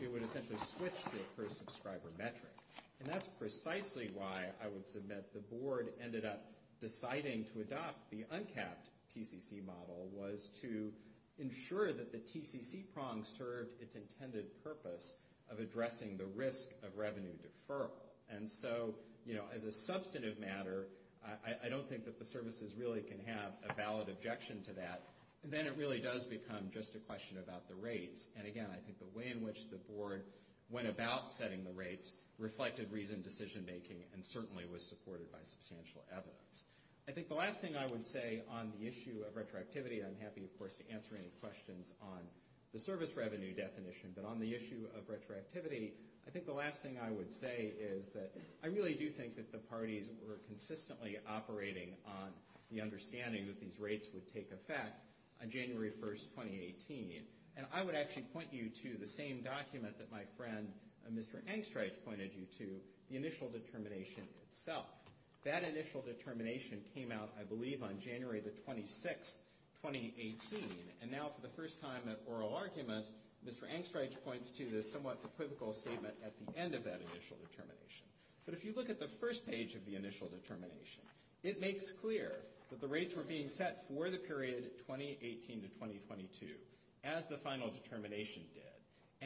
it would essentially switch to a per-subscriber metric. And that's precisely why I would submit the board ended up deciding to adopt the uncapped TCC model was to ensure that the TCC prong served its intended purpose of addressing the risk of revenue deferral. And so, you know, as a substantive matter, I don't think that the services really can have a valid objection to that. And then it really does become just a question about the rates. And, again, I think the way in which the board went about setting the rates reflected reasoned decision-making and certainly was supported by substantial evidence. I think the last thing I would say on the issue of retroactivity, I'm happy, of course, to answer any questions on the service revenue definition. But on the issue of retroactivity, I think the last thing I would say is that I really do think that the parties were consistently operating on the understanding that these rates would take effect on January 1st, 2018. And I would actually point you to the same document that my friend, Mr. Angstreich, pointed you to, the initial determination itself. That initial determination came out, I believe, on January the 26th, 2018. And now, for the first time in oral argument, Mr. Angstreich points to the somewhat equivocal statement at the end of that initial determination. But if you look at the first page of the initial determination, it makes clear that the rates were being set for the period 2018 to 2022, as the final determination did.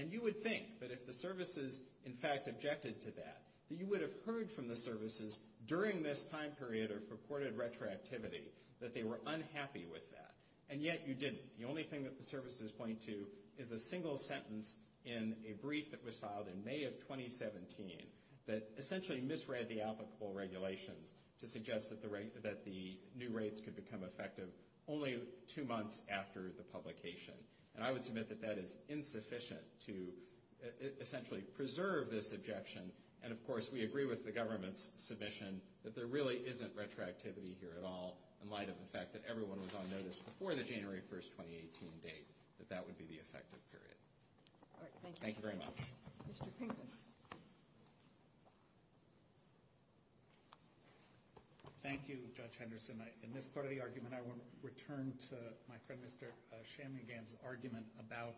And you would think that if the services, in fact, objected to that, that you would have heard from the services during this time period or supported retroactivity that they were unhappy with that. And yet, you didn't. The only thing that the services point to is a single sentence in a brief that was filed in May of 2017 that essentially misread the applicable regulations to suggest that the new rates could become effective only two months after the publication. And I would submit that that is insufficient to essentially preserve this objection. And, of course, we agree with the government's submission that there really isn't retroactivity here at all in light of the fact that everyone was on notice before the January 1, 2018 date that that would be the effective period. All right. Thank you. Thank you very much. Mr. Fink. Thank you, Judge Henderson. In this part of the argument, I want to return to my friend Mr. Shanmugam's argument about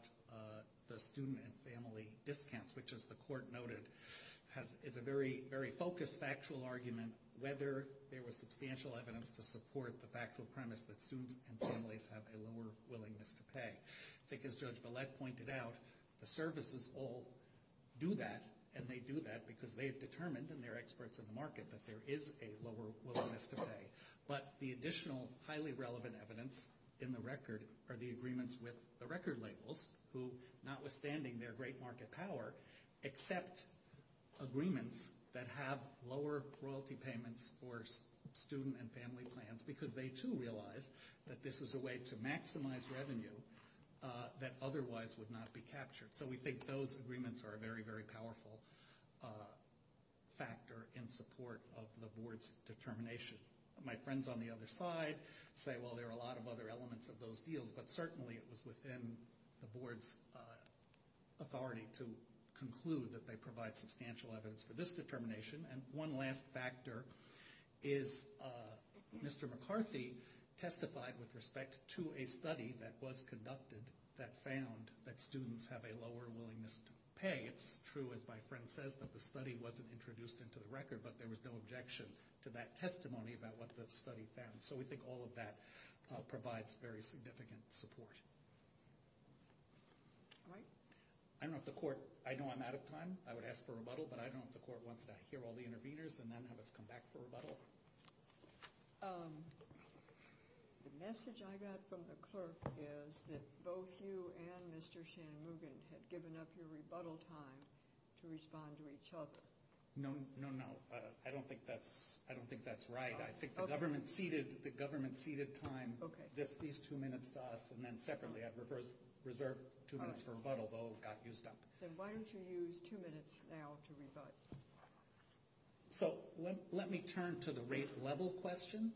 the student and family discounts, which, as the court noted, is a very, very focused factual argument whether there was substantial evidence to support the factual premise that students and families have a lower willingness to pay. I think, as Judge Gillette pointed out, the services all do that, and they do that because they've determined, and they're experts in the market, that there is a lower willingness to pay. But the additional highly relevant evidence in the record are the agreements with the record labels, who, notwithstanding their great market power, accept agreements that have lower quality payments for student and family plans because they, too, realize that this is a way to maximize revenue that otherwise would not be captured. So we think those agreements are a very, very powerful factor in support of the board's determination. My friends on the other side say, well, there are a lot of other elements of those deals, but certainly it was within the board's authority to conclude that they provide substantial evidence for this determination. And one last factor is Mr. McCarthy testified with respect to a study that was conducted that found that students have a lower willingness to pay. It's true, as my friend says, that the study wasn't introduced into the record, but there was no objection to that testimony about what the study found. So we think all of that provides very significant support. All right. I don't know if the court – I know I'm out of time. I would ask for a rebuttal, but I don't know if the court wants to hear all the interveners and then have us come back for a rebuttal. The message I got from the clerk is that both you and Mr. Shanmugam have given up your rebuttal time to respond to each other. No, no, no. I don't think that's right. I think the government ceded time. These two minutes saw us, and then secondly, I've reserved two minutes for rebuttal, but we'll get you some. So why don't you use two minutes now to rebut? So let me turn to the rate level question.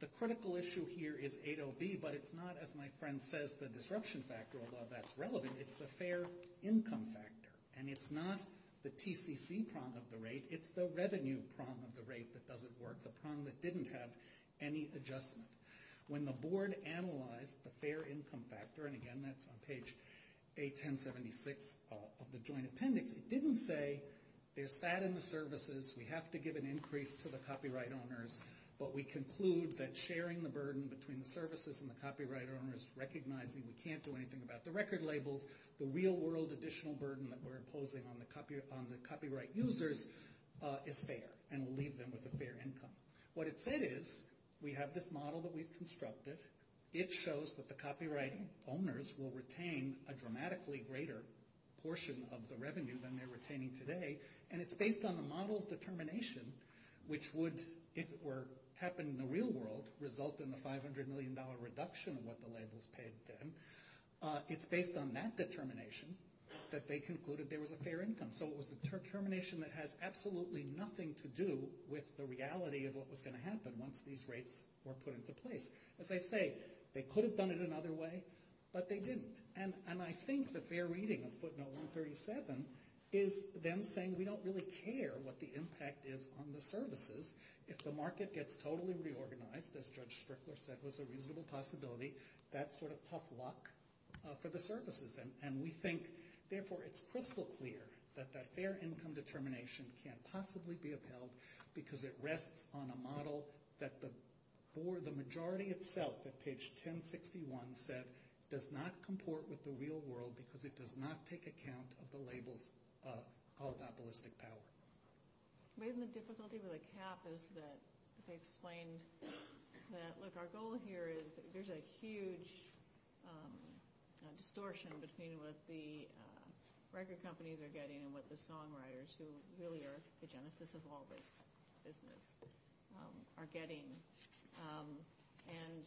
The critical issue here is 80B, but it's not, as my friend says, the disruption factor, although that's relevant. It's the fair income factor. And it's not the TCC problem of the rate. It's the revenue problem of the rate that doesn't work, the problem that didn't have any adjustment. When the board analyzed the fair income factor – and, again, that's on page 81076 of the joint appendix – it didn't say there's fat in the services, we have to give an increase to the copyright owners, but we conclude that sharing the burden between the services and the copyright owners, recognizing we can't do anything about the record labels, the real-world additional burden that we're imposing on the copyright users is fair, and we'll leave them with a fair income. What it said is we have this model that we've constructed. It shows that the copyright owners will retain a dramatically greater portion of the revenue than they're retaining today, and it's based on the model determination, which would, if it were happening in the real world, result in the $500 million reduction in what the labels paid them. It's based on that determination that they concluded there was a fair income. So it was a determination that has absolutely nothing to do with the reality of what was going to happen once these rates were put into place. As I say, they could have done it another way, but they didn't. And I think the fair reading of footnote 137 is them saying we don't really care what the impact is on the services. If the market gets totally reorganized, as Judge Strickler said, with a reasonable possibility, that's sort of tough luck for the services. And we think, therefore, it's critical clear that that fair income determination can't possibly be upheld because it rests on a model that the majority itself, on page 1061, said does not comport with the real world because it does not take account of the labels of monopolistic power. Maybe the difficulty with a cap is that they explained that, look, our goal here is there's a huge distortion between what the record companies are getting and what the songwriters, who really are the genesis of all this business, are getting. And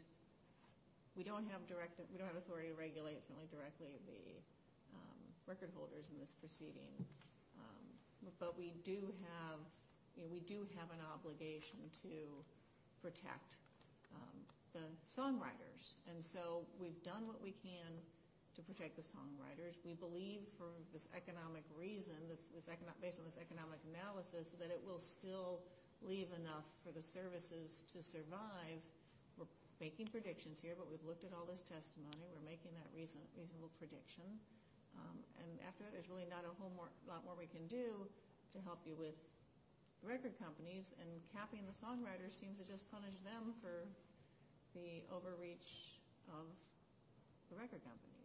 we don't have authority to regulate directly the record holders in this proceeding. But we do have an obligation to protect the songwriters. And so we've done what we can to protect the songwriters. We believe, based on this economic analysis, that it will still leave enough for the services to survive. We're making predictions here, but we've looked at all this testimony. We're making that reasonable prediction. And after that, there's really not a whole lot more we can do to help you with the record companies. And capping the songwriters seems to just punish them for the overreach of the record companies.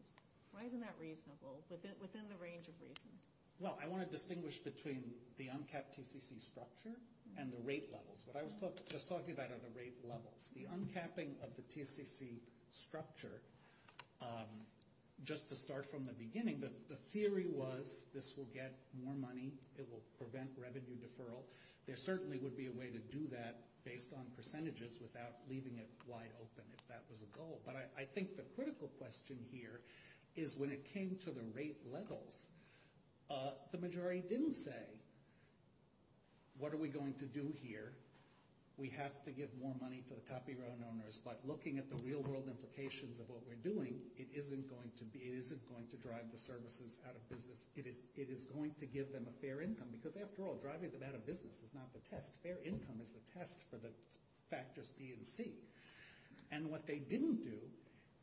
Why isn't that reasonable within the range of reasons? Well, I want to distinguish between the uncapped TCC structure and the rate levels. What I was just talking about are the rate levels. The uncapping of the TCC structure, just to start from the beginning, the theory was this will get more money. It will prevent revenue deferral. There certainly would be a way to do that based on percentages without leaving it wide open if that was a goal. But I think the critical question here is when it came to the rate levels, the majority didn't say, what are we going to do here? We have to get more money to the copyright owners. But looking at the real-world implications of what we're doing, it isn't going to be, it isn't going to drive the services out of business. It is going to give them a fair income because, after all, driving them out of business is not the test. Fair income is the test for the factors B and C. And what they didn't do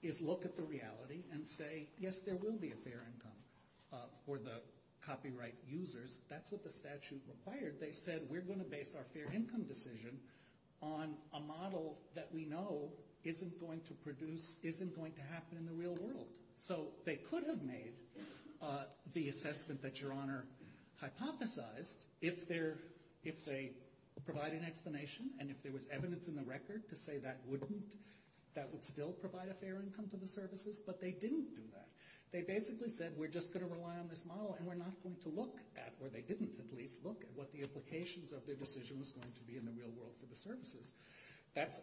is look at the reality and say, yes, there will be a fair income for the copyright users. That's what the statute required. They said we're going to base our fair income decision on a model that we know isn't going to produce, isn't going to happen in the real world. So they could have made the assessment that Your Honor hypothesized if they provide an explanation and if there was evidence in the record to say that wouldn't, that would still provide a fair income to the services, but they didn't do that. They basically said we're just going to rely on this model, and we're not going to look at, or they didn't at least look at, what the implications of their decision was going to be in the real world for the services. That's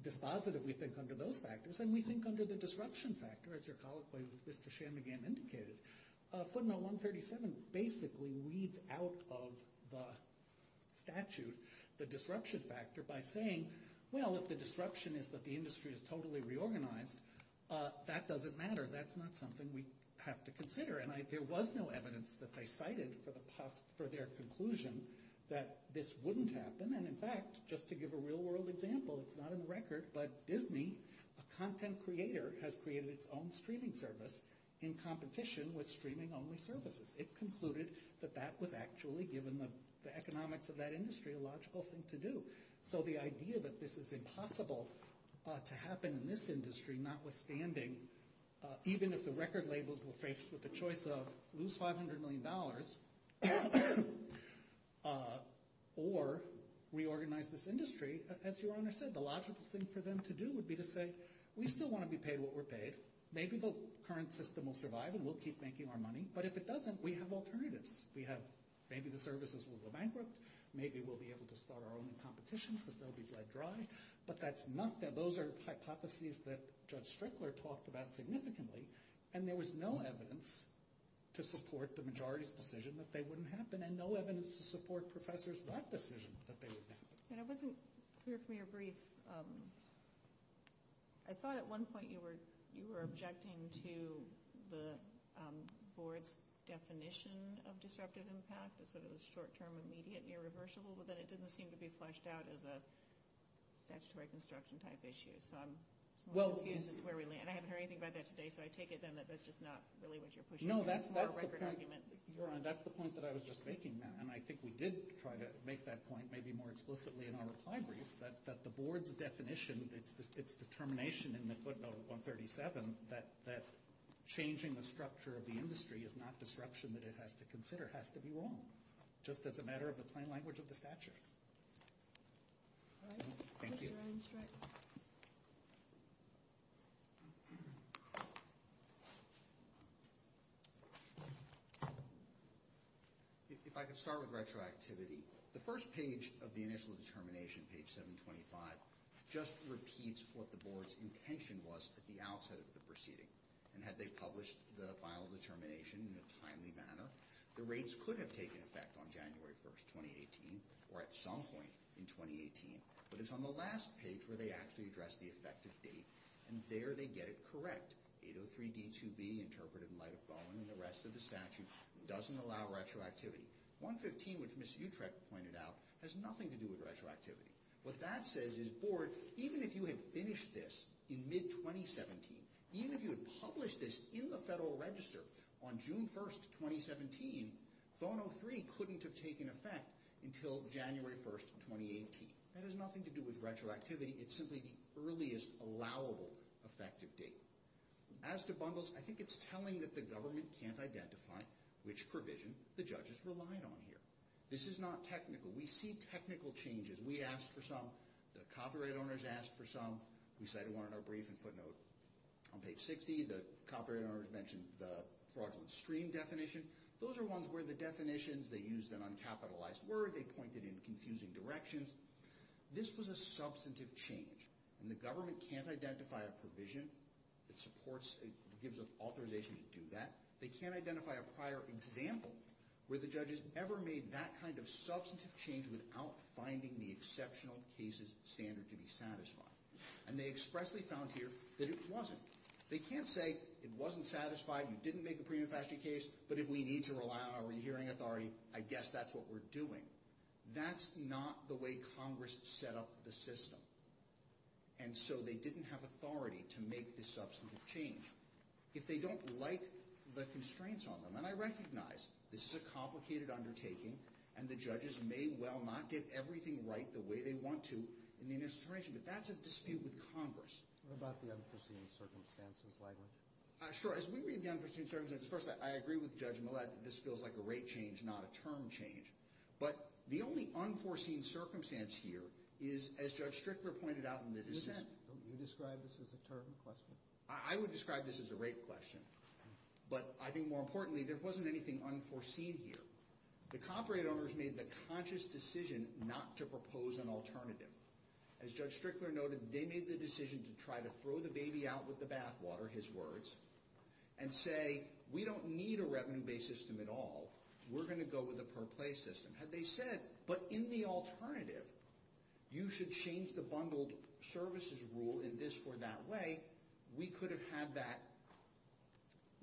dispositive, we think, under those factors. And we think under the disruption factor, as your colleague, Mr. Shanmugam, indicated. Submit 137 basically weeds out of the statute the disruption factor by saying, well, if the disruption is that the industry is totally reorganized, that doesn't matter. That's not something we have to consider. And there was no evidence that they cited for their conclusion that this wouldn't happen. And, in fact, just to give a real-world example, it's not in the record, but Disney, a content creator, has created its own streaming service in competition with streaming-only services. It concluded that that was actually, given the economics of that industry, a logical thing to do. So the idea that this is impossible to happen in this industry, notwithstanding, even if the record labels will face the choice of lose $500 million or reorganize this industry, as your honor said, the logical thing for them to do would be to say, we still want to be paid what we're paid. Maybe the current system will survive and we'll keep making our money. But if it doesn't, we have alternatives. Maybe the services will go bankrupt. Maybe we'll be able to start our own competitions because they'll be led dry. Those are hypotheses that Judge Strickler talked about significantly, and there was no evidence to support the majority's decision that they wouldn't happen, and no evidence to support Professors Wright's decision that they wouldn't happen. And I wasn't clear from your brief. I thought at one point you were objecting to the board's definition of disruptive impact, that it was short-term, immediate, and irreversible, but that it didn't seem to be fleshed out as a statutory construction-type issue. And I haven't heard anything about that today, so I take it then that that's just not really what you're pushing. No, that's the point that I was just making. And I think we did try to make that point maybe more explicitly in our brief, that the board's definition, its determination in this 137, that changing the structure of the industry is not disruption that it has to consider, it has to be wrong, just as a matter of the plain language of the statute. If I could start with retroactivity. The first page of the initial determination, page 725, just repeats what the board's intention was at the outset of the proceeding. And had they published the final determination in a timely manner, the rates could have taken effect on January 1st, 2018, or at some point in 2018. But it's on the last page where they actually address the effective date, and there they get it correct. 803-D2B, interpreted in light of Bowman and the rest of the statute, doesn't allow retroactivity. 115, which Ms. Utrecht pointed out, has nothing to do with retroactivity. What that says is, board, even if you had finished this in mid-2017, even if you had published this in the Federal Register on June 1st, 2017, 1003 couldn't have taken effect until January 1st, 2018. That has nothing to do with retroactivity. It's simply the earliest allowable effective date. As to bundles, I think it's telling that the government can't identify which provision the judges relied on here. This is not technical. We see technical changes. We asked for some. The copyright owners asked for some. We cited one in our briefing footnote on page 60. The copyright owners mentioned the fraudulent stream definition. Those are ones where the definitions, they used an uncapitalized word, they pointed in confusing directions. This was a substantive change, and the government can't identify a provision that supports, gives authorization to do that. They can't identify a prior example where the judges ever made that kind of change without finding the exceptional cases standard to be satisfied. And they expressly found here that it wasn't. They can't say it wasn't satisfied, you didn't make the pre-reflected case, but if we need to rely on our hearing authority, I guess that's what we're doing. That's not the way Congress set up the system, and so they didn't have authority to make this substantive change. If they don't like the constraints on them, and I recognize this is a complicated undertaking, and the judges may well not get everything right the way they want to in the administration, but that's a dispute with Congress. What about the unforeseen circumstances language? Sure, as we read the unforeseen circumstances, first I agree with Judge Millett that this feels like a rate change, not a term change. But the only unforeseen circumstance here is, as Judge Strickler pointed out in the dissent. You described this as a term question. I would describe this as a rate question. But I think more importantly, there wasn't anything unforeseen here. The copyright owners made the conscious decision not to propose an alternative. As Judge Strickler noted, they made the decision to try to throw the baby out with the bathwater, his words, and say, we don't need a revenue-based system at all. We're going to go with a per-play system. Had they said, but in the alternative, you should change the bundled services rule we could have had that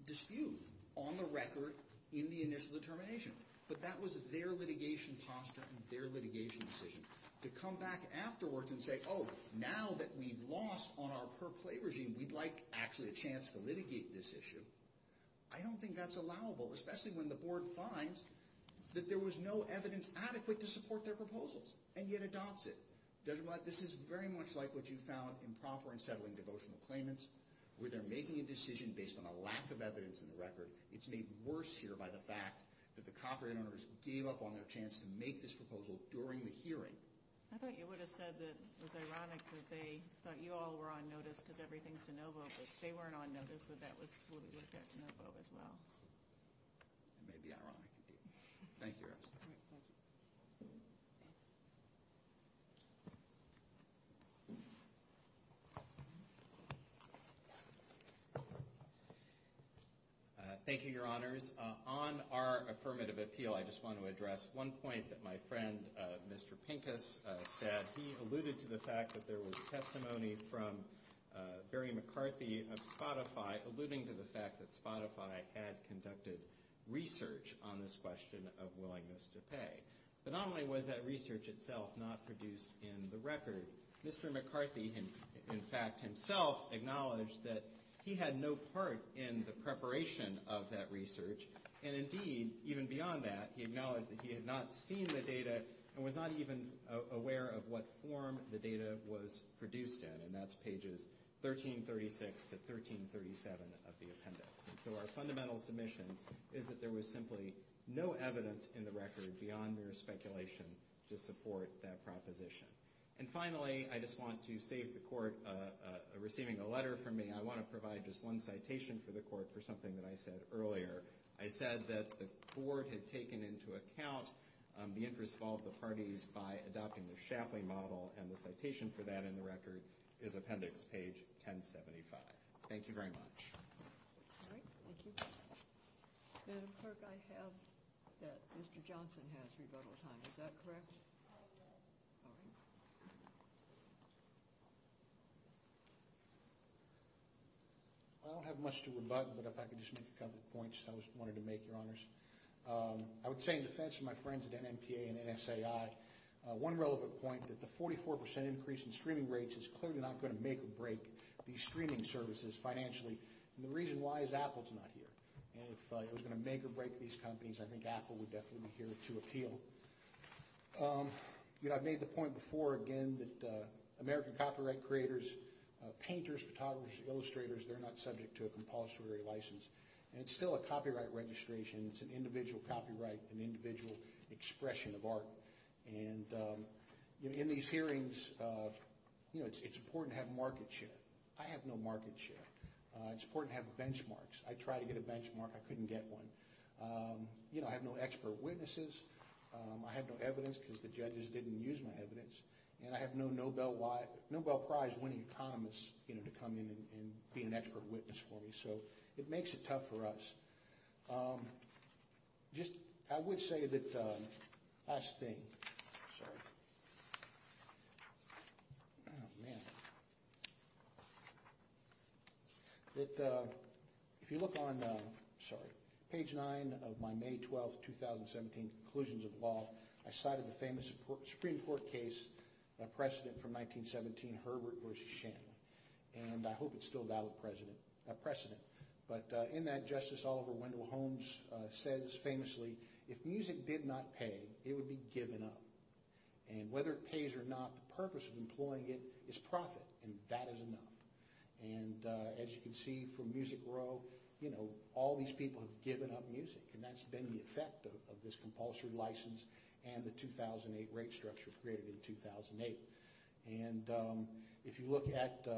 dispute on the record in the initial determination. But that was their litigation posture and their litigation decision. To come back afterwards and say, oh, now that we've lost on our per-play regime, we'd like actually a chance to litigate this issue. I don't think that's allowable, especially when the board finds that there was no evidence adequate to support their proposals, and yet adopts it. Judge Blatt, this is very much like what you found in prompter and settling devotional claimants, where they're making a decision based on a lack of evidence in the record. It's made worse here by the fact that the copyright owners gave up on their chance to make this proposal during the hearing. I think you would have said that it was ironic that they thought you all were on notice of everything to no vote, but they weren't on notice, so that would affect no vote as well. It may be ironic indeed. Thank you, Erickson. Thank you. Thank you, Your Honors. On our affirmative appeal, I just want to address one point that my friend, Mr. Pincus, said. He alluded to the fact that there was testimony from Barry McCarthy of Spotify, alluding to the fact that Spotify had conducted research on this question of willingness to pay. But not only was that research itself not produced in the record, Mr. McCarthy in fact himself acknowledged that he had no part in the preparation of that research, and indeed, even beyond that, he acknowledged that he had not seen the data and was not even aware of what form the data was produced in, and that's pages 1336 to 1337 of the appendix. So our fundamental submission is that there was simply no evidence in the record beyond mere speculation to support that proposition. And finally, I just want to say at the court, receiving a letter from me, I want to provide just one citation for the court for something that I said earlier. It says that the court had taken into account the interest of all the parties by adopting the Shapley model, and the citation for that in the record is appendix page 1075. Thank you very much. All right, thank you. Madam Clerk, I have that Mr. Johnson has rebuttal time. Is that correct? Yes. All right. I don't have much to rebut, but if I can just make a couple of points I just wanted to make, Your Honors. I would say in defense of my friends at NMTA and NSAI, one relevant point is that the 44% increase in streaming rates is clearly not going to make or break these streaming services financially. And the reason why is Apple's not here. And if it was going to make or break these companies, I think Apple would definitely be here to appeal. I've made the point before again that American copyright creators, painters, photographers, illustrators, they're not subject to a compulsory license. And it's still a copyright registration. It's an individual copyright, an individual expression of art. And in these hearings, you know, it's important to have market share. I have no market share. It's important to have benchmarks. I tried to get a benchmark. I couldn't get one. You know, I have no expert witnesses. I have no evidence because the judges didn't use my evidence. And I have no Nobel Prize winning promise, you know, to come in and be an expert witness for me. So it makes it tough for us. Just, I would say that last thing. Sorry. That if you look on, sorry, page 9 of my May 12, 2017 conclusions of the law, I cited the famous Supreme Court case precedent from 1917, Herbert v. Shanley. And I hope it's still valid precedent. But in that, Justice Oliver Wendell Holmes says famously, if music did not pay, it would be given up. And whether it pays or not, the purpose of employing it is profit, and that is enough. And as you can see from Music Row, you know, all these people have given up music. And that's been the effect of this compulsory license and the 2008 rate structure created in 2008. And if you look at, you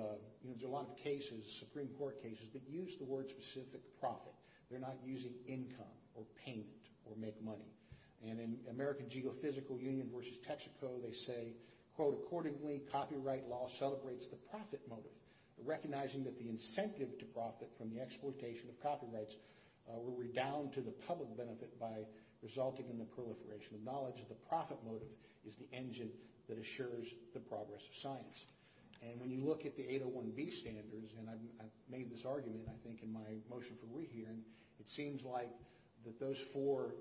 know, there's a lot of cases, Supreme Court cases that use the word specific profit. They're not using income or payment or make money. And in American Geophysical Union v. Texaco, they say, quote, accordingly, copyright law celebrates the profit motive, recognizing that the incentive to profit from the exploitation of copyrights will redound to the public benefit by resulting in the proliferation of knowledge. So the profit motive is the engine that assures the progress of science. And when you look at the 801B standards, and I made this argument, I think, in my motion for rehearing, it seems like that those four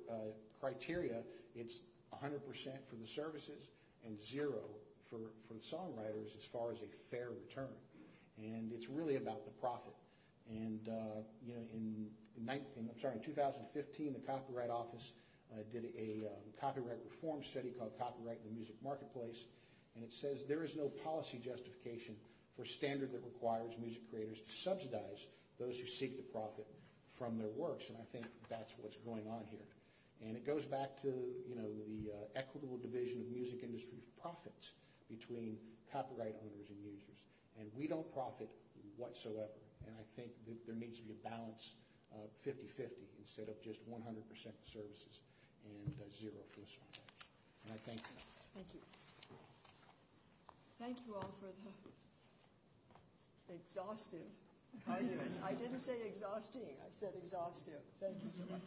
criteria, it's 100% for the services and zero for the songwriters as far as a fair return. And it's really about the profit. And, you know, in 2015, the Copyright Office did a copyright reform study called Copyright in the Music Marketplace. And it says there is no policy justification or standard that requires music creators to subsidize those who seek to profit from their works. And I think that's what's going on here. And it goes back to, you know, the equitable division of music industry profits between copyright owners and users. And we don't profit whatsoever. And I think there needs to be a balance of 50-50 instead of just 100% services and zero for songwriters. And I thank you. Thank you. Thank you all for the exhaustive – I didn't say exhausting, I said exhaustive. Thank you so much.